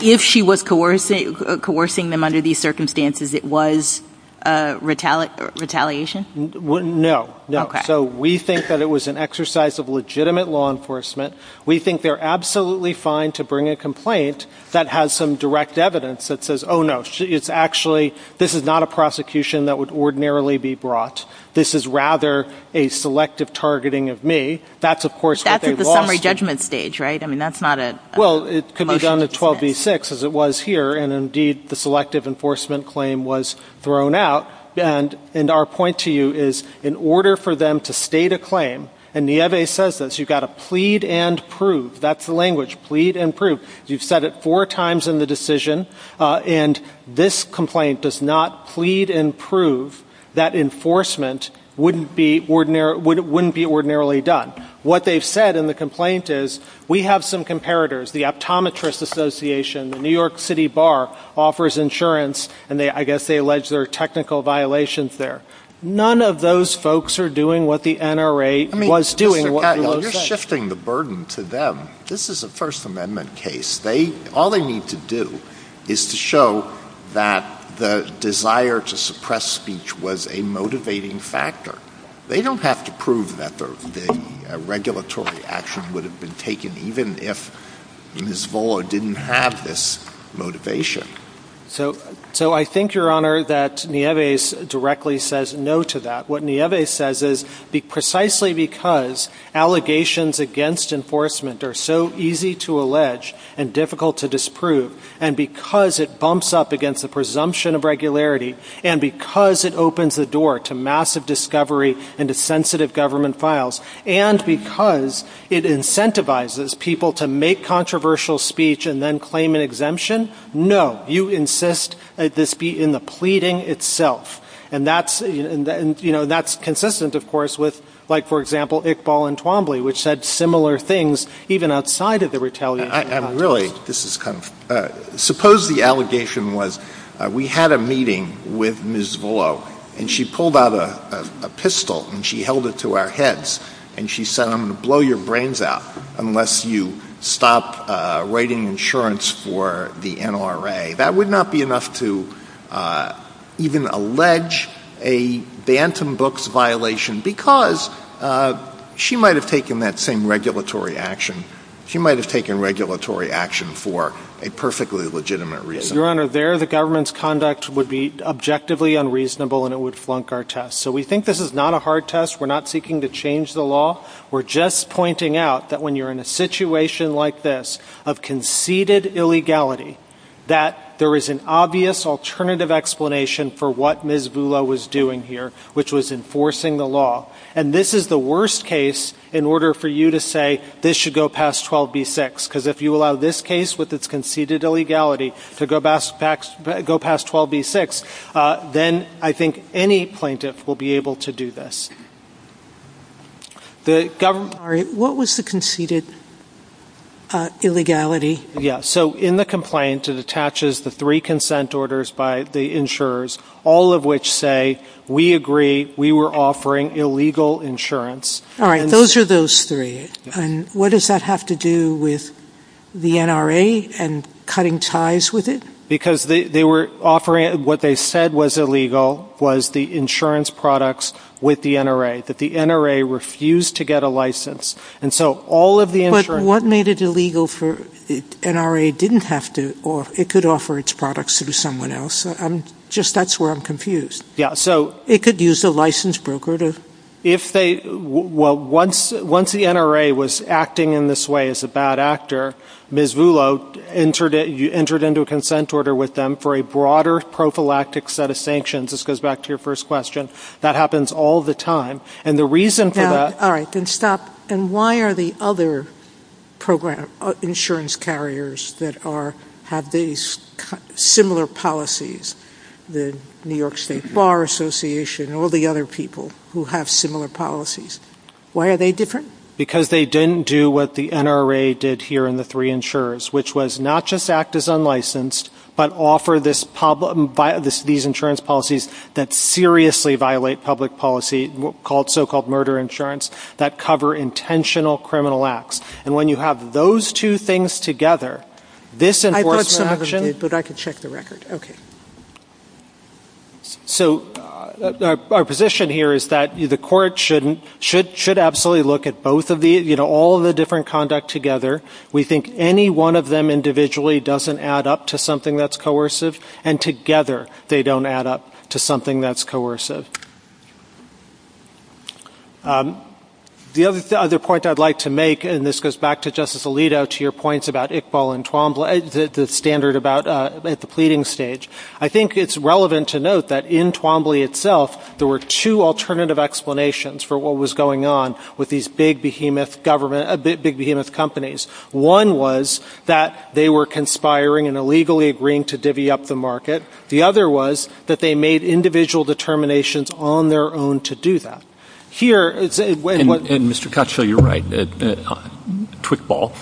if she was coercing them under these circumstances, it was retaliation? No. So we think that it was an exercise of legitimate law enforcement. We think they're absolutely fine to bring a complaint that has some direct evidence that says, oh, no, it's actually this is not a prosecution that would ordinarily be brought. This is rather a selective targeting of me. That's, of course, the summary judgment stage. Right. I mean, that's not it. Well, it could be done to 12 v. 6 as it was here. And indeed, the selective enforcement claim was thrown out. And our point to you is in order for them to state a claim. And Nieve says this, you've got to plead and prove. That's the language, plead and prove. You've said it four times in the decision. And this complaint does not plead and prove that enforcement wouldn't be ordinarily done. What they've said in the complaint is we have some comparators, the Optometrist Association, the New York City Bar offers insurance, and I guess they allege there are technical violations there. None of those folks are doing what the NRA was doing. You're shifting the burden for them. This is a First Amendment case. All they need to do is to show that the desire to suppress speech was a motivating factor. They don't have to prove that the regulatory action would have been taken, even if Ms. Vola didn't have this motivation. So I think, Your Honor, that Nieve directly says no to that. What Nieve says is precisely because allegations against enforcement are so easy to allege and difficult to disprove, and because it bumps up against the presumption of regularity, and because it opens the door to massive discovery into sensitive government files, and because it incentivizes people to make controversial speech and then claim an exemption, no, you insist that this be in the pleading itself. And that's consistent, of course, with, for example, Iqbal and Twombly, which said similar things even outside of the retaliation. Really, suppose the allegation was we had a meeting with Ms. Vola, and she pulled out a pistol and she held it to our heads, and she said, I'm going to blow your brains out unless you stop writing insurance for the NRA. That would not be enough to even allege a Bantam Books violation, because she might have taken that same regulatory action. She might have taken regulatory action for a perfectly legitimate reason. Your Honor, there, the government's conduct would be objectively unreasonable, and it would flunk our test. So we think this is not a hard test. We're not seeking to change the law. We're just pointing out that when you're in a situation like this of conceded illegality, that there is an obvious alternative explanation for what Ms. Vola was doing here, which was enforcing the law. And this is the worst case in order for you to say this should go past 12b-6, because if you allow this case with its conceded illegality to go past 12b-6, then I think any plaintiff will be able to do this. The government... All right. What was the conceded illegality? Yes. So in the complaint, it attaches the three consent orders by the insurers, all of which say we agree we were offering illegal insurance. All right. Those are those three. And what does that have to do with the NRA and cutting ties with it? Because what they said was illegal was the insurance products with the NRA, that the NRA refused to get a license. And so all of the insurance... But what made it illegal for NRA didn't have to? It could offer its products to someone else. Just that's where I'm confused. Yeah, so... It could use a licensed broker to... Well, once the NRA was acting in this way as a bad actor, Ms. Vullo entered into a consent order with them for a broader prophylactic set of sanctions. This goes back to your first question. That happens all the time. And the reason for that... All right. Then stop. And why are the other insurance carriers that have similar policies, the New York State Bar Association and all the other people who have similar policies, why are they different? Because they didn't do what the NRA did here in the three insurers, which was not just act as unlicensed but offer these insurance policies that seriously violate public policy called so-called murder insurance that cover intentional criminal acts. And when you have those two things together, this enforcement action... But I can check the record. OK. So our position here is that the court should absolutely look at both of these, you know, all of the different conduct together. We think any one of them individually doesn't add up to something that's coercive, and together they don't add up to something that's coercive. The other point I'd like to make, and this goes back to Justice Alito, to your points about Iqbal and Twombly, the standard at the pleading stage, I think it's relevant to note that in Twombly itself there were two alternative explanations for what was going on with these big behemoth companies. One was that they were conspiring and illegally agreeing to divvy up the market. The other was that they made individual determinations on their own to do that. And, Mr. Cottrell, you're right. Quick ball.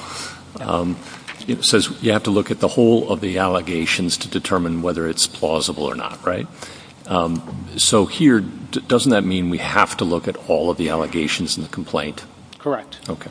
It says you have to look at the whole of the allegations to determine whether it's plausible or not, right? So here, doesn't that mean we have to look at all of the allegations in the complaint? Correct. OK.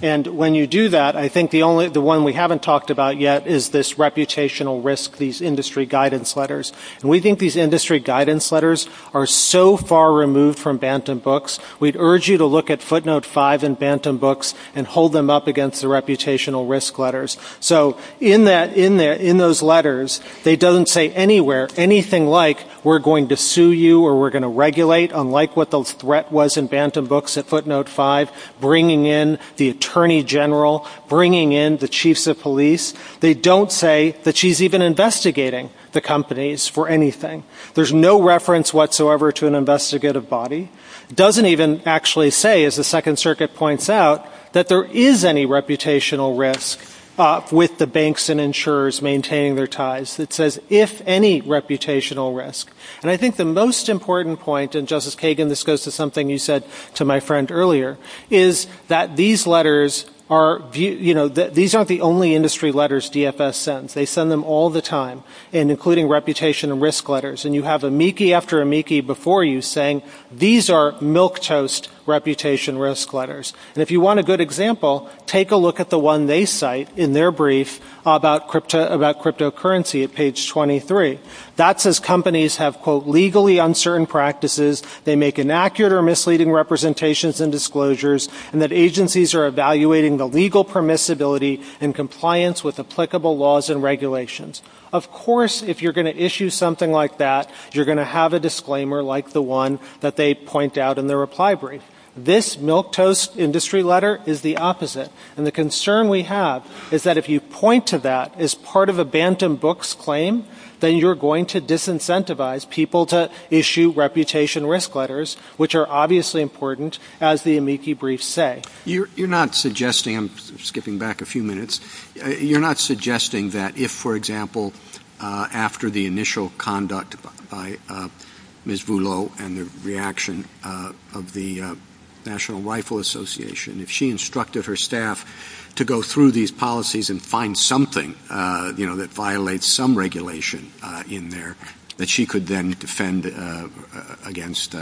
And when you do that, I think the one we haven't talked about yet is this reputational risk, these industry guidance letters. And we think these industry guidance letters are so far removed from Bantam Books, we'd urge you to look at footnote 5 in Bantam Books and hold them up against the reputational risk letters. So in those letters, they don't say anywhere anything like we're going to sue you or we're going to regulate, unlike what the threat was in Bantam Books at footnote 5, bringing in the attorney general, bringing in the chiefs of police. They don't say that she's even investigating the companies for anything. There's no reference whatsoever to an investigative body. It doesn't even actually say, as the Second Circuit points out, that there is any reputational risk with the banks and insurers maintaining their ties. It says if any reputational risk. And I think the most important point, and, Justice Kagan, this goes to something you said to my friend earlier, is that these letters are, you know, these aren't the only industry letters DFS sends. They send them all the time, and including reputational risk letters. And you have amici after amici before you saying these are milquetoast reputational risk letters. And if you want a good example, take a look at the one they cite in their brief about cryptocurrency at page 23. That says companies have, quote, legally uncertain practices. They make inaccurate or misleading representations and disclosures, and that agencies are evaluating the legal permissibility in compliance with applicable laws and regulations. Of course, if you're going to issue something like that, you're going to have a disclaimer like the one that they point out in their reply brief. This milquetoast industry letter is the opposite. And the concern we have is that if you point to that as part of a bantam books claim, then you're going to disincentivize people to issue reputation risk letters, which are obviously important, as the amici brief say. You're not suggesting, I'm skipping back a few minutes, you're not suggesting that if, for example, after the initial conduct by Ms. Boulot and the reaction of the National Rifle Association, if she instructed her staff to go through these policies and find something that violates some regulation in there, that she could then defend against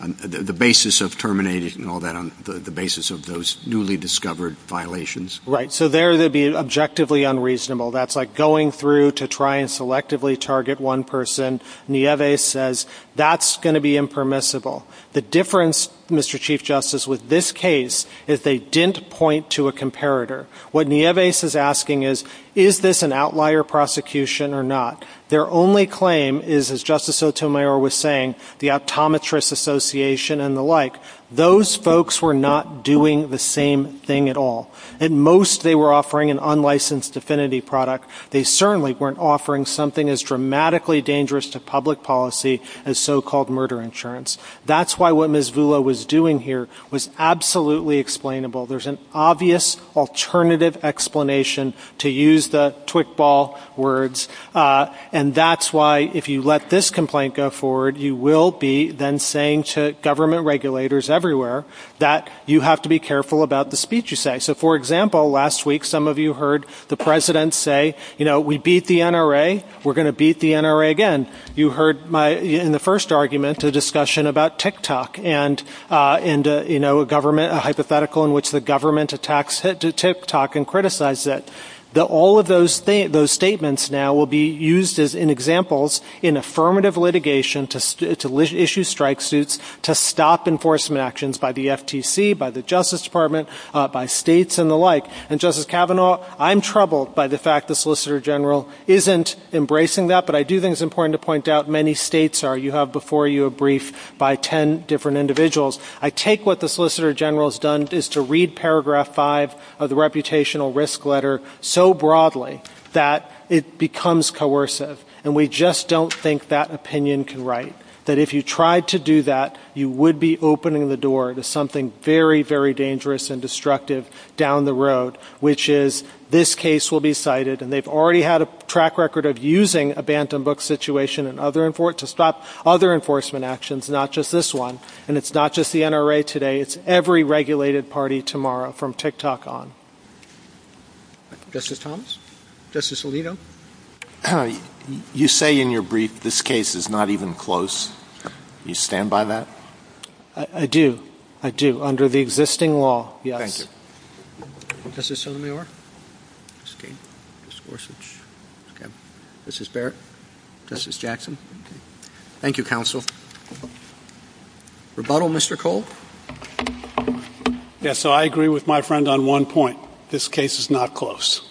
the basis of terminating all that, the basis of those newly discovered violations. Right, so there it would be objectively unreasonable. That's like going through to try and selectively target one person. Nieves says that's going to be impermissible. The difference, Mr. Chief Justice, with this case is they didn't point to a comparator. What Nieves is asking is, is this an outlier prosecution or not? Their only claim is, as Justice Sotomayor was saying, the Optometrist Association and the like. Those folks were not doing the same thing at all. At most they were offering an unlicensed affinity product. They certainly weren't offering something as dramatically dangerous to public policy as so-called murder insurance. That's why what Ms. Boulot was doing here was absolutely explainable. There's an obvious alternative explanation, to use the twig ball words, and that's why if you let this complaint go forward, you will be then saying to government regulators everywhere that you have to be careful about the speech you say. For example, last week some of you heard the President say, we beat the NRA. We're going to beat the NRA again. You heard in the first argument a discussion about TikTok and a hypothetical in which the government attacks TikTok and criticizes it. All of those statements now will be used as examples in affirmative litigation to issue strike suits to stop enforcement actions by the FTC, by the Justice Department, by states and the like. And Justice Kavanaugh, I'm troubled by the fact the Solicitor General isn't embracing that, but I do think it's important to point out many states are. You have before you a brief by 10 different individuals. I take what the Solicitor General has done is to read Paragraph 5 of the Reputational Risk Letter so broadly that it becomes coercive, and we just don't think that opinion can write, that if you tried to do that, you would be opening the door to something very, very dangerous and destructive down the road, which is this case will be cited. And they've already had a track record of using a bantam book situation to stop other enforcement actions, not just this one. And it's not just the NRA today. It's every regulated party tomorrow from TikTok on. Justice Thomas? Justice Alito? You say in your brief this case is not even close. Do you stand by that? I do. I do. Under the existing law, yes. Thank you. Justice Sotomayor? Excuse me. Justice Gorsuch? Yes. Justice Barrett? Justice Jackson? Thank you, counsel. Rebuttal, Mr. Cole? Yes. So I agree with my friend on one point. This case is not close.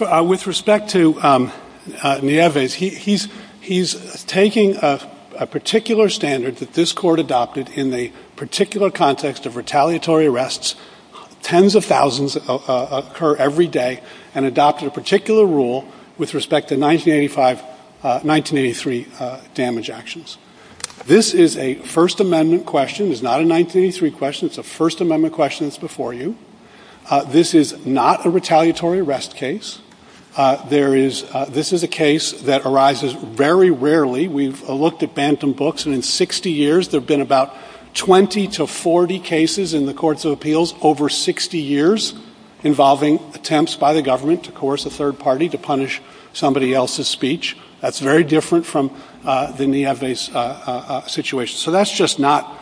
With respect to Nieves, he's taking a particular standard that this court adopted in the particular context of retaliatory arrests. Tens of thousands occur every day and adopted a particular rule with respect to 1985, 1983 damage actions. This is a First Amendment question. It's not a 1983 question. It's a First Amendment question that's before you. This is not a retaliatory arrest case. This is a case that arises very rarely. We've looked at Bantham books, and in 60 years there have been about 20 to 40 cases in the courts of appeals over 60 years involving attempts by the government to coerce a third party to punish somebody else's speech. That's very different from the Nieves situation. So that's just not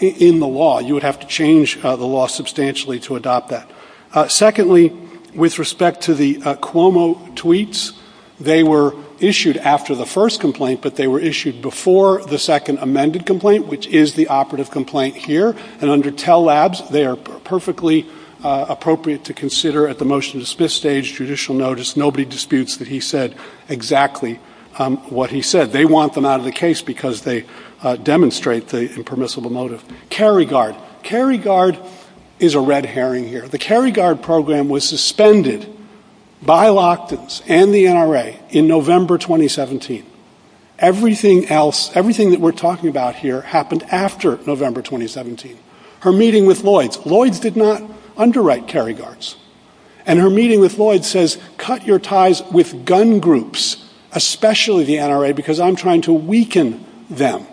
in the law. You would have to change the law substantially to adopt that. Secondly, with respect to the Cuomo tweets, they were issued after the first complaint, but they were issued before the second amended complaint, which is the operative complaint here. And under TELL Labs, they are perfectly appropriate to consider at the motion's fifth stage judicial notice. Nobody disputes that he said exactly what he said. They want them out of the case because they demonstrate the impermissible motive. Caryguard. Caryguard is a red herring here. The Caryguard program was suspended by Lochtans and the NRA in November 2017. Everything else, everything that we're talking about here happened after November 2017. Her meeting with Lloyds. Lloyds did not underwrite Caryguards. And her meeting with Lloyds says, cut your ties with gun groups, especially the NRA, because I'm trying to weaken them.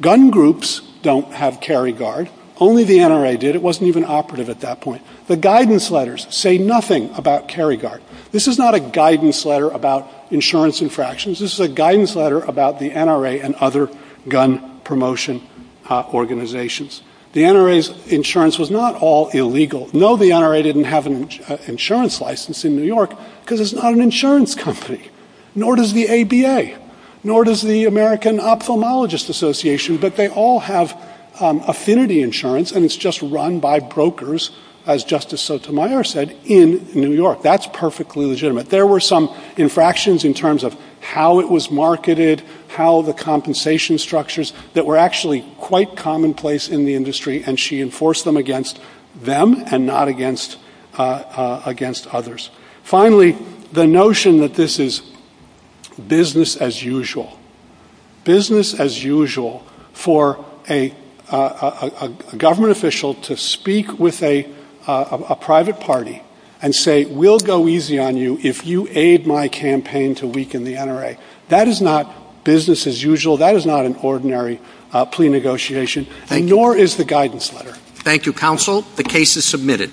Gun groups don't have Caryguard. Only the NRA did. It wasn't even operative at that point. The guidance letters say nothing about Caryguard. This is not a guidance letter about insurance infractions. This is a guidance letter about the NRA and other gun promotion organizations. The NRA's insurance was not all illegal. No, the NRA didn't have an insurance license in New York because it's not an insurance company. Nor does the ABA. Nor does the American Ophthalmologist Association. But they all have affinity insurance, and it's just run by brokers, as Justice Sotomayor said, in New York. That's perfectly legitimate. There were some infractions in terms of how it was marketed, how the compensation structures, that were actually quite commonplace in the industry. And she enforced them against them and not against others. Finally, the notion that this is business as usual. Business as usual for a government official to speak with a private party and say, we'll go easy on you if you aid my campaign to weaken the NRA. That is not business as usual. That is not an ordinary plea negotiation. Nor is the guidance letter. Thank you, counsel. The case is submitted.